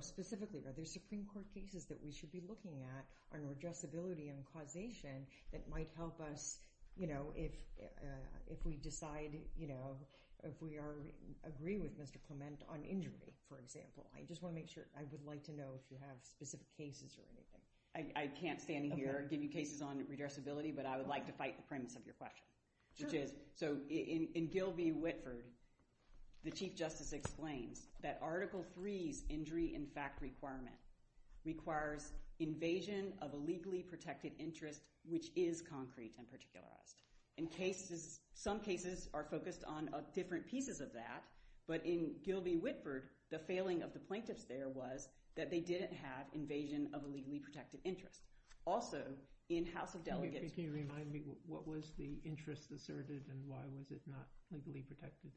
– specifically, are there Supreme Court cases that we should be looking at on redressability and causation that might help us if we decide – if we agree with Mr. Clement on injury, for example. I just want to make sure – I would like to know if you have specific cases or anything. I can't stand here and give you cases on redressability, but I would like to fight the premise of your question, which is – so in Gilby-Whitford, the Chief Justice explains that Article III's injury in fact requirement requires invasion of a legally protected interest, which is concrete and particularized. In cases – some cases are focused on different pieces of that, but in Gilby-Whitford, the failing of the plaintiffs there was that they didn't have invasion of a legally protected interest. Also, in House of Delegates – Can you remind me, what was the interest asserted and why was it not legally protected?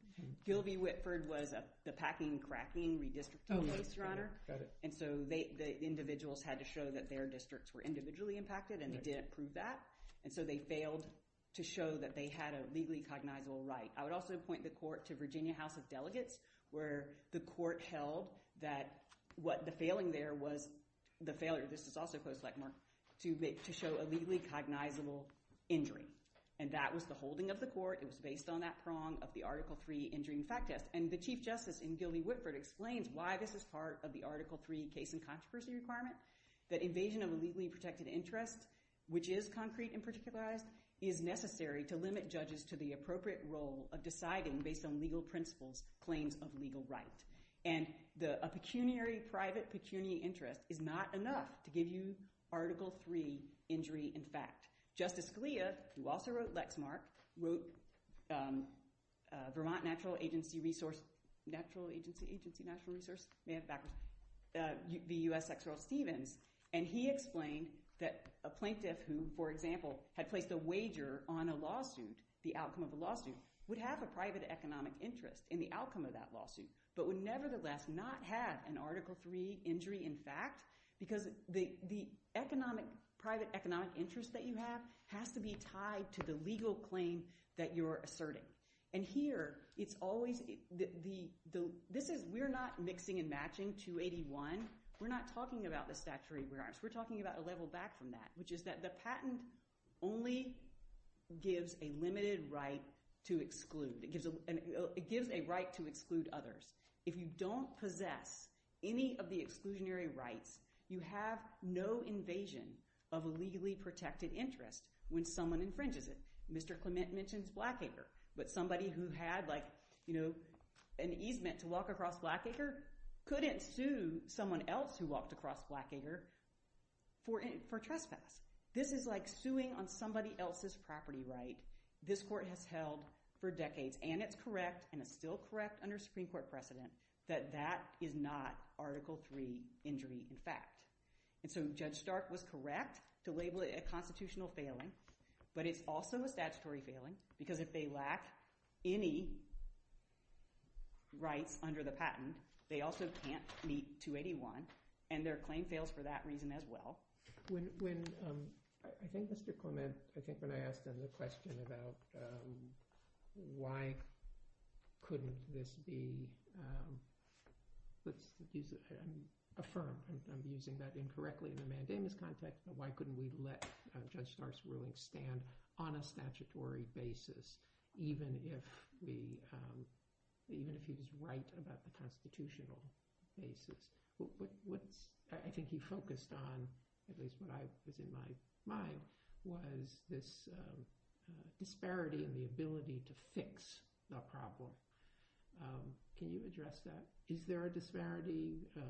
Gilby-Whitford was the packing-cracking redistricting case, Your Honor. Got it. And so the individuals had to show that their districts were individually impacted and they didn't prove that. And so they failed to show that they had a legally cognizable right. I would also point the court to Virginia House of Delegates where the court held that the failing there was – the failure – this is also post-legmark – to show a legally cognizable injury. And that was the holding of the court. It was based on that prong of the Article III injury in fact test. And the Chief Justice in Gilby-Whitford explains why this is part of the Article III case in controversy requirement, that invasion of a legally protected interest, which is concrete and particularized, is necessary to limit judges to the appropriate role of deciding based on legal principles, claims of legal right. And a pecuniary, private pecuniary interest is not enough to give you Article III injury in fact. Justice Scalia, who also wrote Lexmark, wrote Vermont Natural Agency Resource – Natural Agency, Agency, Natural Resource? May I have it backwards? The U.S. Exeral Stevens, and he explained that a plaintiff who, for example, had placed a wager on a lawsuit, the outcome of a lawsuit, would have a private economic interest in the outcome of that lawsuit but would nevertheless not have an Article III injury in fact because the economic – private economic interest that you have has to be tied to the legal claim that you're asserting. And here it's always the – this is – we're not mixing and matching 281. We're not talking about the statutory firearms. We're talking about a level back from that, which is that the patent only gives a limited right to exclude. It gives a right to exclude others. If you don't possess any of the exclusionary rights, you have no invasion of a legally protected interest when someone infringes it. Mr. Clement mentions Blackacre, but somebody who had like an easement to walk across Blackacre couldn't sue someone else who walked across Blackacre for trespass. This is like suing on somebody else's property right. This court has held for decades, and it's correct, and it's still correct under Supreme Court precedent, that that is not Article III injury in fact. And so Judge Stark was correct to label it a constitutional failing, but it's also a statutory failing because if they lack any rights under the patent, they also can't meet 281, and their claim fails for that reason as well. When – I think Mr. Clement – I think when I asked him the question about why couldn't this be – he affirmed, and I'm using that incorrectly in a mandamus context, but why couldn't we let Judge Stark's rules stand on a statutory basis, even if he was right about the constitutional basis? What I think he focused on, at least what is in my mind, was this disparity in the ability to fix the problem. Can you address that? Is there a disparity or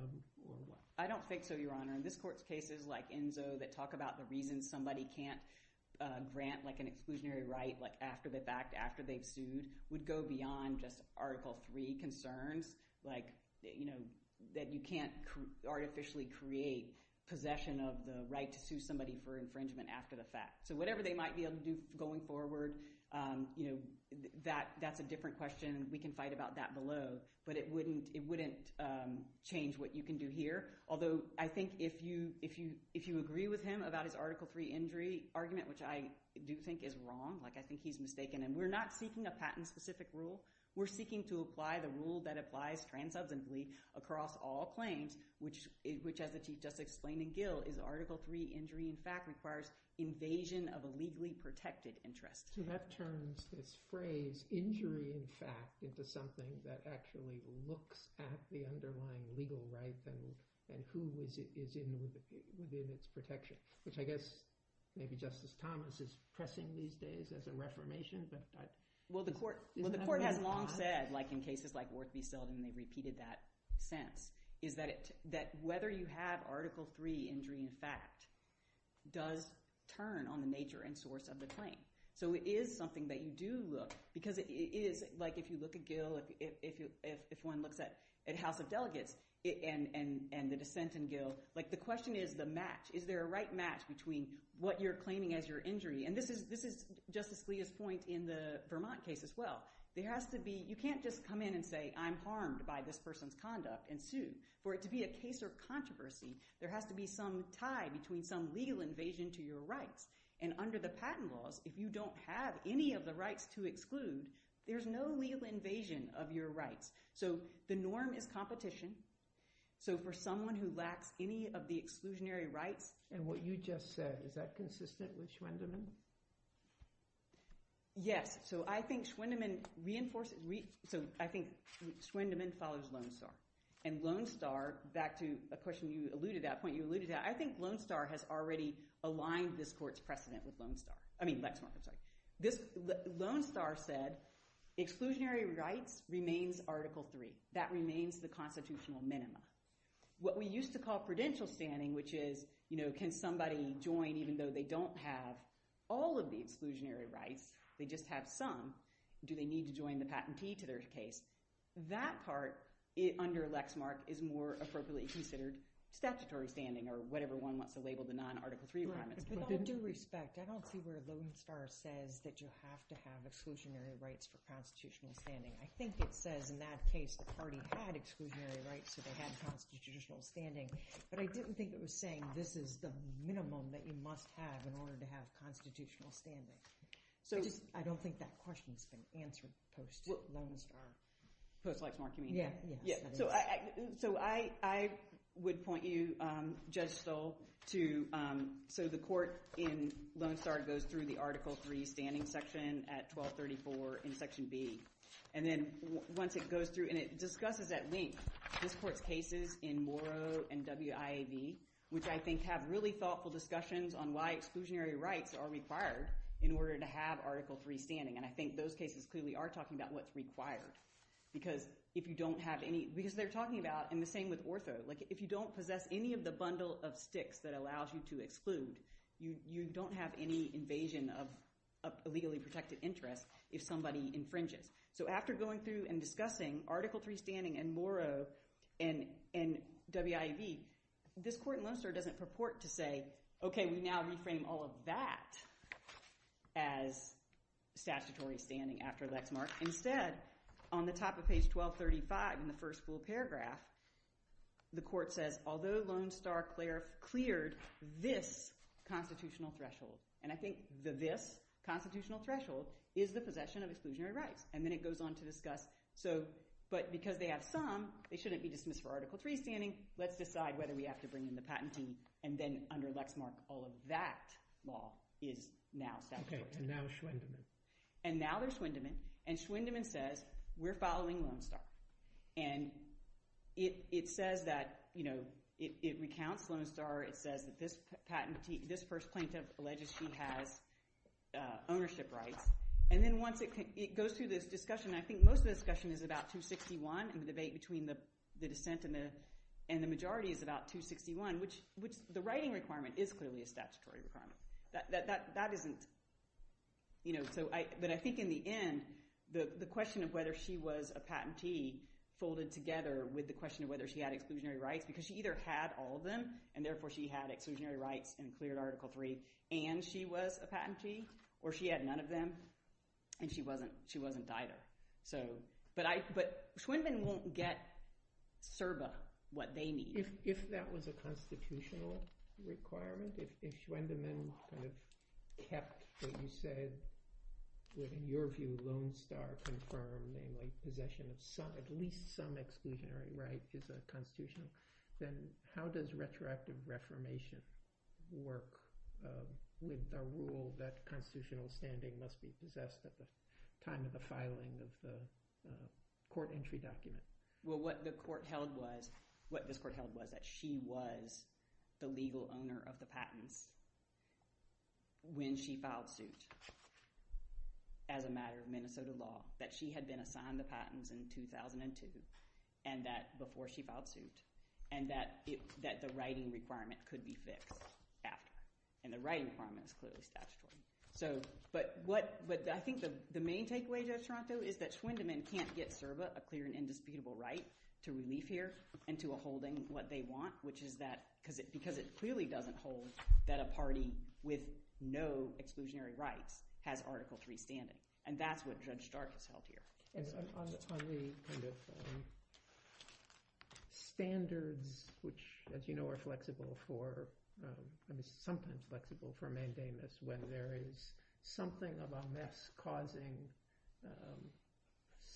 what? I don't think so, Your Honor. In this court's cases like Enzo that talk about the reason somebody can't grant an exclusionary right after the fact, after they've sued, would go beyond just Article III concerns that you can't artificially create possession of the right to sue somebody for infringement after the fact. So whatever they might be able to do going forward, that's a different question. We can fight about that below, but it wouldn't change what you can do here. Although I think if you agree with him about his Article III injury argument, which I do think is wrong, like I think he's mistaken, and we're not seeking a patent-specific rule. We're seeking to apply the rule that applies transubstantially across all claims, which, as the Chief Justice explained in Gill, is Article III injury in fact requires invasion of a legally protected interest. So that turns this phrase, injury in fact, into something that actually looks at the underlying legal right and who is in its protection, which I guess maybe Justice Thomas is pressing these days as a reformation. Well, the court has long said in cases like Worth v. Selden, they've repeated that sense, is that whether you have Article III injury in fact does turn on the nature and source of the claim. So it is something that you do look – because it is – like if you look at Gill, if one looks at House of Delegates and the dissent in Gill, the question is the match. Is there a right match between what you're claiming as your injury – and this is Justice Scalia's point in the Vermont case as well. There has to be – you can't just come in and say I'm harmed by this person's conduct and sue. For it to be a case of controversy, there has to be some tie between some legal invasion to your rights. And under the patent laws, if you don't have any of the rights to exclude, there's no legal invasion of your rights. So the norm is competition. So for someone who lacks any of the exclusionary rights – And what you just said, is that consistent with Schwendeman? Yes. So I think Schwendeman reinforces – so I think Schwendeman follows Lone Star. And Lone Star – back to a question you alluded to, a point you alluded to – I think Lone Star has already aligned this court's precedent with Lone Star – I mean Lexmark, I'm sorry. Lone Star said exclusionary rights remains Article III. That remains the constitutional minima. What we used to call credential standing, which is can somebody join even though they don't have all of the exclusionary rights, they just have some, do they need to join the patentee to their case, that part under Lexmark is more appropriately considered statutory standing or whatever one wants to label the non-Article III requirements. With all due respect, I don't see where Lone Star says that you have to have exclusionary rights for constitutional standing. I think it says in that case the party had exclusionary rights, so they had constitutional standing. But I didn't think it was saying this is the minimum that you must have in order to have constitutional standing. I just – I don't think that question has been answered post-Lone Star. Post-Lexmark, you mean? Yes. So I would point you, Judge Stoll, to – so the court in Lone Star goes through the Article III standing section at 1234 in Section B. And then once it goes through and it discusses at length this court's cases in Morrow and WIAB, which I think have really thoughtful discussions on why exclusionary rights are required in order to have Article III standing. And I think those cases clearly are talking about what's required because if you don't have any – because they're talking about – and the same with ortho. Like if you don't possess any of the bundle of sticks that allows you to exclude, you don't have any invasion of illegally protected interest if somebody infringes. So after going through and discussing Article III standing in Morrow and WIAB, this court in Lone Star doesn't purport to say, okay, we now reframe all of that as statutory standing after Lexmark. Instead, on the top of page 1235 in the first full paragraph, the court says, although Lone Star cleared this constitutional threshold – and I think the this constitutional threshold is the possession of exclusionary rights. And then it goes on to discuss so – but because they have some, they shouldn't be dismissed for Article III standing. Let's decide whether we have to bring in the patent team. And then under Lexmark, all of that law is now statutory. Okay, and now Schwindemann. And now there's Schwindemann, and Schwindemann says we're following Lone Star. And it says that – it recounts Lone Star. It says that this patent – this first plaintiff alleges she has ownership rights. And then once it – it goes through this discussion. I think most of the discussion is about 261, and the debate between the dissent and the majority is about 261, which the writing requirement is clearly a statutory requirement. That isn't – so I – but I think in the end, the question of whether she was a patentee folded together with the question of whether she had exclusionary rights because she either had all of them, and therefore she had exclusionary rights and cleared Article III, and she was a patentee, or she had none of them, and she wasn't – she wasn't either. So – but I – but Schwindemann won't get CERBA what they need. If that was a constitutional requirement, if Schwindemann kind of kept what you said, what in your view Lone Star confirmed namely possession of some – at least some exclusionary rights is a constitutional, then how does retroactive reformation work with a rule that constitutional standing must be possessed at the time of the filing of the court entry document? Well, what the court held was – what this court held was that she was the legal owner of the patents when she filed suit as a matter of Minnesota law, that she had been assigned the patents in 2002 and that – before she filed suit, and that it – that the writing requirement could be fixed after, and the writing requirement is clearly statutory. So – but what – but I think the main takeaway, Judge Toronto, is that Schwindemann can't get CERBA a clear and indisputable right to relief here and to a holding what they want, which is that – because it clearly doesn't hold that a party with no exclusionary rights has Article III standing, and that's what Judge Stark has held here. On the kind of standards which, as you know, are flexible for –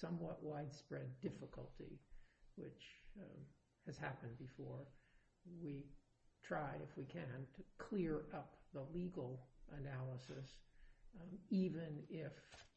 somewhat widespread difficulty, which has happened before, we try, if we can, to clear up the legal analysis, even if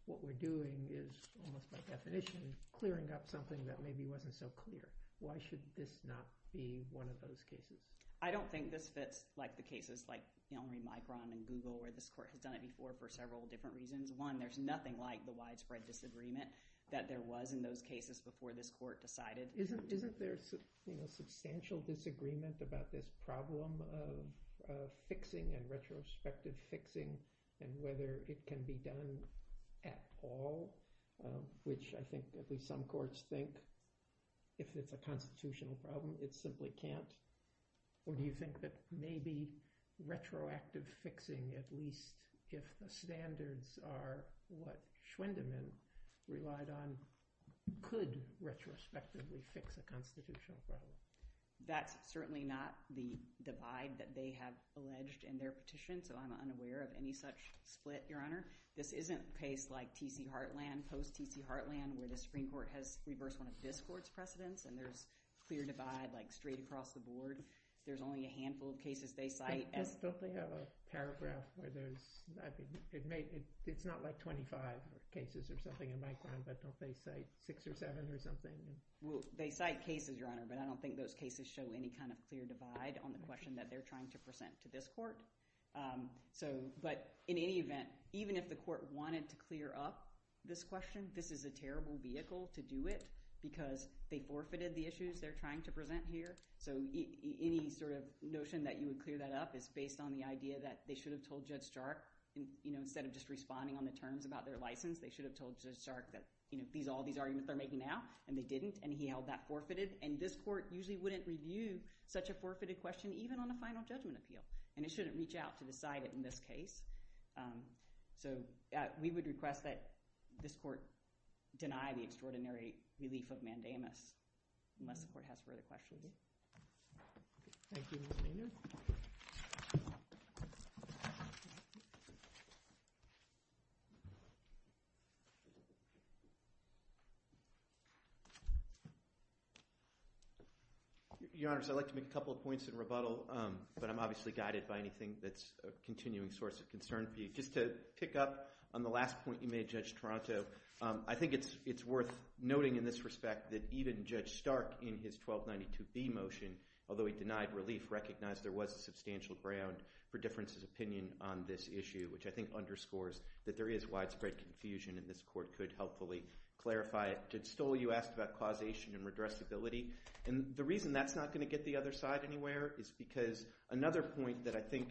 what we're doing is, almost by definition, clearing up something that maybe wasn't so clear. Why should this not be one of those cases? I don't think this fits, like, the cases, like, you know, Micron and Google, where this court has done it before for several different reasons. One, there's nothing like the widespread disagreement that there was in those cases before this court decided. Isn't there, you know, substantial disagreement about this problem of fixing and retrospective fixing and whether it can be done at all, which I think at least some courts think, if it's a constitutional problem, it simply can't. Or do you think that maybe retroactive fixing, at least if the standards are what Schwendeman relied on, could retrospectively fix a constitutional problem? That's certainly not the divide that they have alleged in their petition, so I'm unaware of any such split, Your Honor. This isn't a case like T.C. Heartland, post-T.C. Heartland, where the Supreme Court has reversed one of this court's precedents, and there's clear divide, like, straight across the board. There's only a handful of cases they cite. Don't they have a paragraph where there's, I think, it's not like 25 cases or something in Micron, but don't they cite six or seven or something? Well, they cite cases, Your Honor, but I don't think those cases show any kind of clear divide on the question that they're trying to present to this court. So, but in any event, even if the court wanted to clear up this question, this is a terrible vehicle to do it because they forfeited the issues they're trying to present here. So any sort of notion that you would clear that up is based on the idea that they should have told Judge Stark, you know, instead of just responding on the terms about their license, they should have told Judge Stark that, you know, all these arguments they're making now, and they didn't, and he held that forfeited. And this court usually wouldn't review such a forfeited question even on a final judgment appeal, and it shouldn't reach out to decide it in this case. So we would request that this court deny the extraordinary relief of mandamus unless the court has further questions. Thank you, Ms. Maynard. Your Honors, I'd like to make a couple of points in rebuttal, but I'm obviously guided by anything that's a continuing source of concern for you. Just to pick up on the last point you made, Judge Toronto, I think it's worth noting in this respect that even Judge Stark in his 1292B motion, although he denied relief, recognized there was a substantial ground for Difference's opinion on this issue, which I think underscores that there is widespread confusion, and this court could helpfully clarify it. Judge Stoll, you asked about causation and redressability, and the reason that's not going to get the other side anywhere is because another point that I think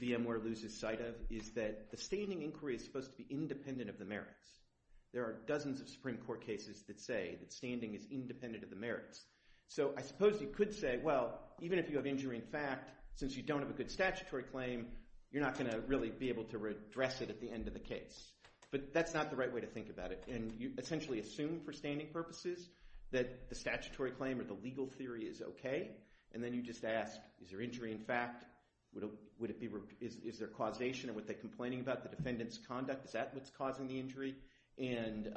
VMware loses sight of is that the standing inquiry is supposed to be independent of the merits. There are dozens of Supreme Court cases that say that standing is independent of the merits. So I suppose you could say, well, even if you have injury in fact, since you don't have a good statutory claim, you're not going to really be able to redress it at the end of the case. But that's not the right way to think about it, and you essentially assume for standing purposes that the statutory claim or the legal theory is okay, and then you just ask, is there injury in fact? Is there causation? Are they complaining about the defendant's conduct? Is that what's causing the injury? And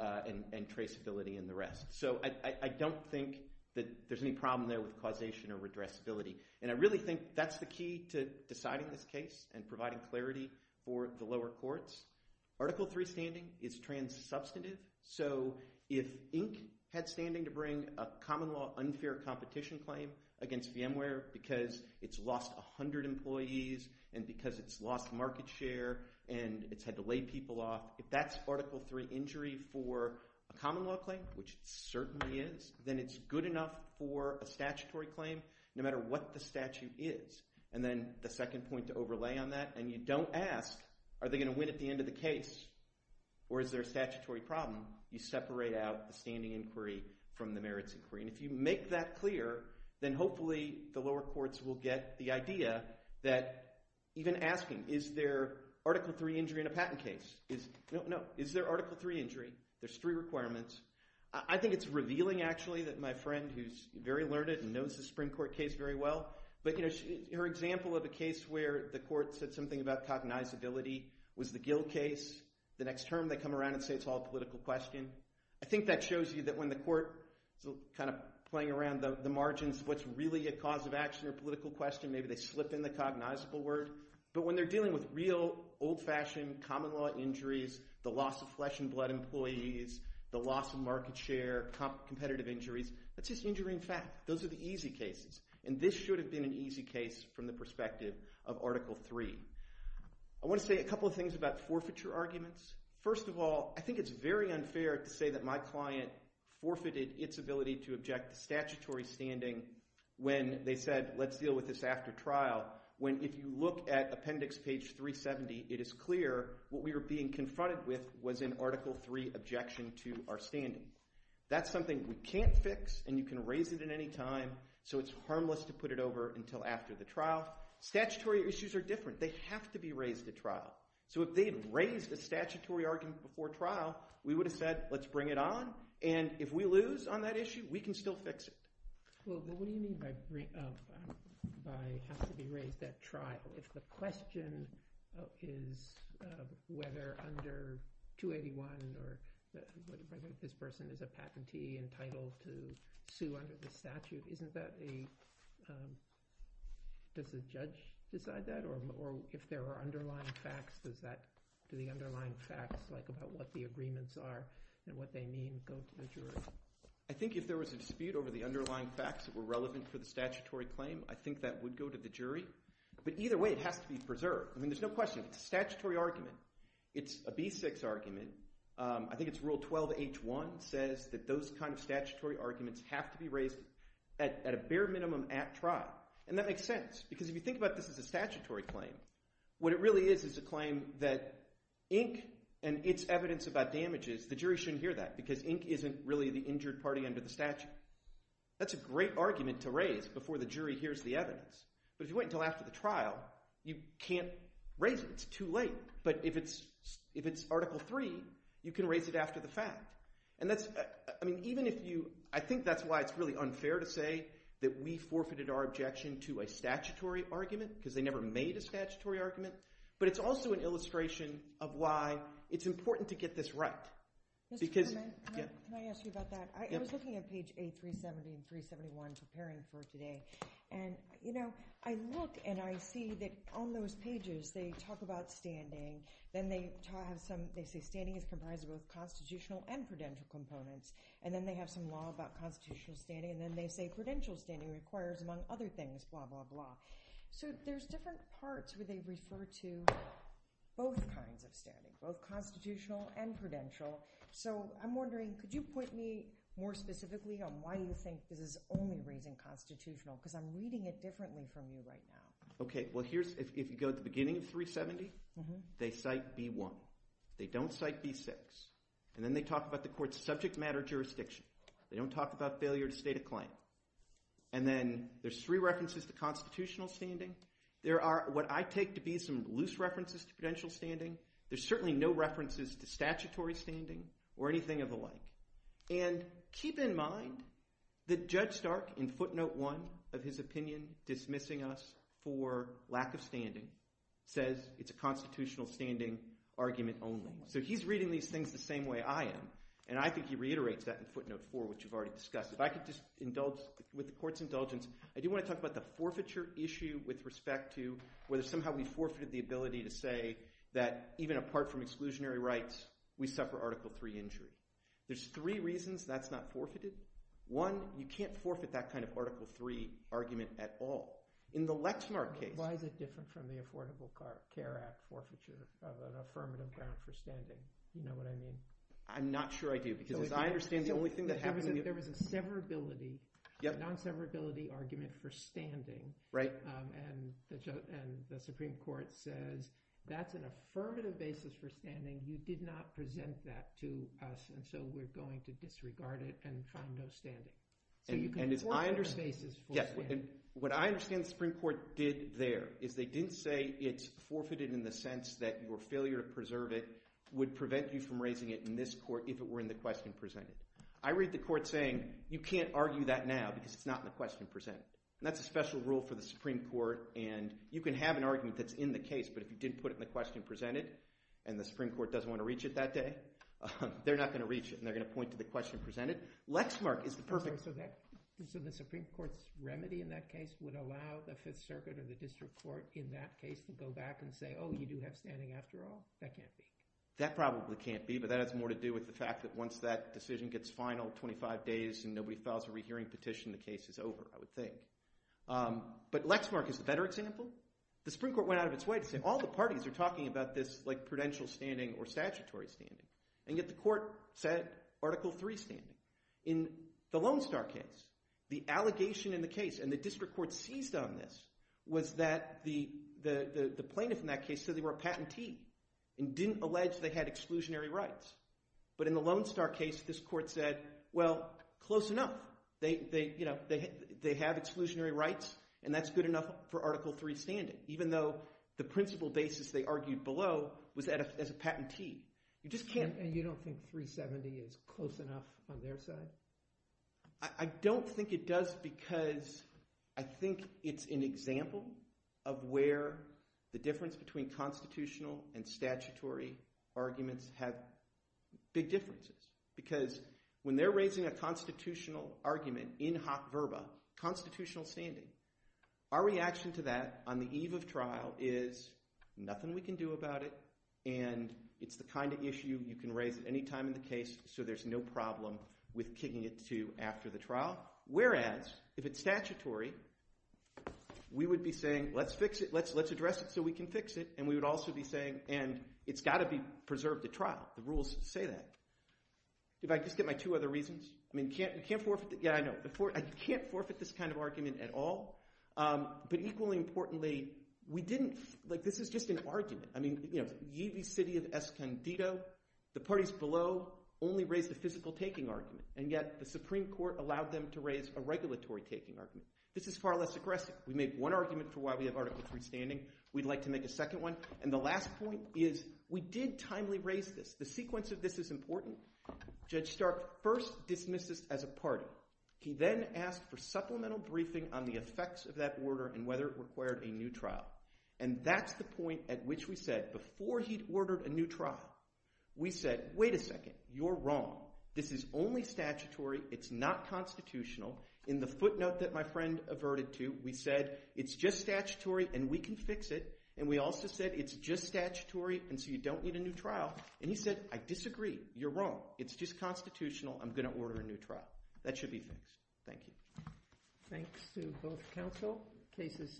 traceability and the rest. So I don't think that there's any problem there with causation or redressability, and I really think that's the key to deciding this case and providing clarity for the lower courts. Article III standing is trans-substantive, so if Ink had standing to bring a common-law unfair competition claim against VMware because it's lost 100 employees and because it's lost market share and it's had to lay people off, if that's Article III injury for a common-law claim, which it certainly is, then it's good enough for a statutory claim, no matter what the statute is. And then the second point to overlay on that, and you don't ask, are they going to win at the end of the case, or is there a statutory problem? You separate out the standing inquiry from the merits inquiry. And if you make that clear, then hopefully the lower courts will get the idea that even asking, is there Article III injury in a patent case? No, no, is there Article III injury? There's three requirements. I think it's revealing, actually, that my friend, who's very learned and knows the Supreme Court case very well, but her example of a case where the court said something about cognizability was the Gill case. The next term they come around and say it's all a political question. I think that shows you that when the court is kind of playing around the margins, what's really a cause of action or political question, maybe they slip in the cognizable word. But when they're dealing with real, old-fashioned common-law injuries, the loss of flesh and blood employees, the loss of market share, competitive injuries, that's just injuring fact. Those are the easy cases. And this should have been an easy case from the perspective of Article III. I want to say a couple of things about forfeiture arguments. First of all, I think it's very unfair to say that my client forfeited its ability to object to statutory standing when they said, let's deal with this after trial, when, if you look at Appendix page 370, it is clear what we were being confronted with was an Article III objection to our standing. That's something we can't fix, and you can raise it at any time, so it's harmless to put it over until after the trial. Statutory issues are different. They have to be raised at trial. So if they had raised a statutory argument before trial, we would have said, let's bring it on, and if we lose on that issue, we can still fix it. Well, what do you mean by have to be raised at trial? If the question is whether under 281 this person is a patentee entitled to sue under the statute, isn't that a does the judge decide that? Or if there are underlying facts, do the underlying facts about what the agreements are and what they mean go to the jury? I think if there was a dispute over the underlying facts that were relevant for the statutory claim, I think that would go to the jury. But either way, it has to be preserved. There's no question. It's a statutory argument. It's a B6 argument. I think it's Rule 12H1 says that those kind of statutory arguments have to be raised at a bare minimum at trial. And that makes sense because if you think about this as a statutory claim, what it really is is a claim that ink and its evidence about damages, the jury shouldn't hear that because ink isn't really the injured party under the statute. That's a great argument to raise before the jury hears the evidence. But if you wait until after the trial, you can't raise it. It's too late. But if it's Article 3, you can raise it after the fact. I think that's why it's really unfair to say that we forfeited our objection to a statutory argument because they never made a statutory argument. But it's also an illustration of why it's important to get this right. Can I ask you about that? I was looking at page A370 and 371 preparing for today. I look and I see that on those pages they talk about standing. Then they say standing is comprised of both constitutional and prudential components. Then they have some law about constitutional standing. Then they say prudential standing requires, among other things, blah, blah, blah. So there's different parts where they refer to both kinds of standing, both constitutional and prudential. I'm wondering, could you point me more specifically on why you think this is only raising constitutional because I'm reading it differently from you right now. If you go to the beginning of 370, they cite B1. They don't cite B6. And then they talk about the court's subject matter jurisdiction. They don't talk about failure to state a claim. And then there's three references to constitutional standing. There are what I take to be some loose references to prudential standing. There's certainly no references to statutory standing or anything of the like. And keep in mind that Judge Stark in footnote 1 of his opinion dismissing us for constitutional standing argument only. So he's reading these things the same way I am. And I think he reiterates that in footnote 4, which you've already discussed. If I could just indulge with the court's indulgence, I do want to talk about the forfeiture issue with respect to whether somehow we forfeited the ability to say that even apart from exclusionary rights, we suffer Article III injury. There's three reasons that's not forfeited. One, you can't forfeit that kind of Article III argument at all. In the Lexmark case... ...the Affordable Care Act forfeiture of an affirmative ground for standing. Do you know what I mean? I'm not sure I do, because as I understand the only thing that happened... There was a severability, a non-severability argument for standing. And the Supreme Court says that's an affirmative basis for standing. You did not present that to us, and so we're going to disregard it and find no standing. So you can forfeit... What I understand the Supreme Court did there is they didn't say it's forfeited in the sense that your failure to preserve it would prevent you from raising it in this court if it were in the question presented. I read the court saying you can't argue that now because it's not in the question presented. And that's a special rule for the Supreme Court, and you can have an argument that's in the case, but if you didn't put it in the question presented, and the Supreme Court doesn't want to reach it that day, they're not going to reach it, and they're going to point to the question presented. Lexmark is the perfect... So the Supreme Court's not going to allow the Fifth Circuit or the District Court in that case to go back and say, oh, you do have standing after all? That can't be. That probably can't be, but that has more to do with the fact that once that decision gets final, 25 days, and nobody files a rehearing petition, the case is over, I would think. But Lexmark is a better example. The Supreme Court went out of its way to say all the parties are talking about this prudential standing or statutory standing, and yet the court said Article III standing. In the Lone Star case, the allegation in the case, and the District Court seized on this, was that the plaintiff in that case said they were a patentee and didn't allege they had exclusionary rights. But in the Lone Star case, this court said, well, close enough. They have exclusionary rights, and that's good enough for Article III standing, even though the principal basis they argued below was as a patentee. You just can't... And you don't think 370 is close enough on their side? I don't think it does because I think it's an example of where the difference between constitutional and statutory arguments have big differences. Because when they're raising a constitutional argument in hot verba, constitutional standing, our reaction to that on the eve of trial is, nothing we can do about it, and it's the kind of issue you can raise at any time in the case so there's no problem with kicking it to after the trial. Whereas if it's statutory, we would be saying, let's fix it, let's address it so we can fix it, and we would also be saying, and it's got to be preserved at trial. The rules say that. If I just get my two other reasons, I mean, you can't forfeit... Yeah, I know. You can't forfeit this kind of argument at all, but equally importantly, we didn't... Like, this is just an argument. I mean, the city of Escondido, the parties below only raised a physical taking argument, and yet the Supreme Court allowed them to raise a regulatory taking argument. This is far less aggressive. We made one argument for why we have Article III standing. We'd like to make a second one. And the last point is, we did timely raise this. The sequence of this is important. Judge Stark first dismissed this as a party. He then asked for supplemental briefing on the effects of that order and whether it required a new trial. And that's the point at which we said, before he'd ordered a new trial, we said, wait a second. You're wrong. This is only statutory. It's not constitutional. In the footnote that my friend averted to, we said, it's just statutory and we can fix it. And we also said, it's just statutory and so you don't need a new trial. And he said, I disagree. You're wrong. It's just constitutional. I'm going to order a new trial. That should be fixed. Thank you. Thanks to both counsel. Case is submitted.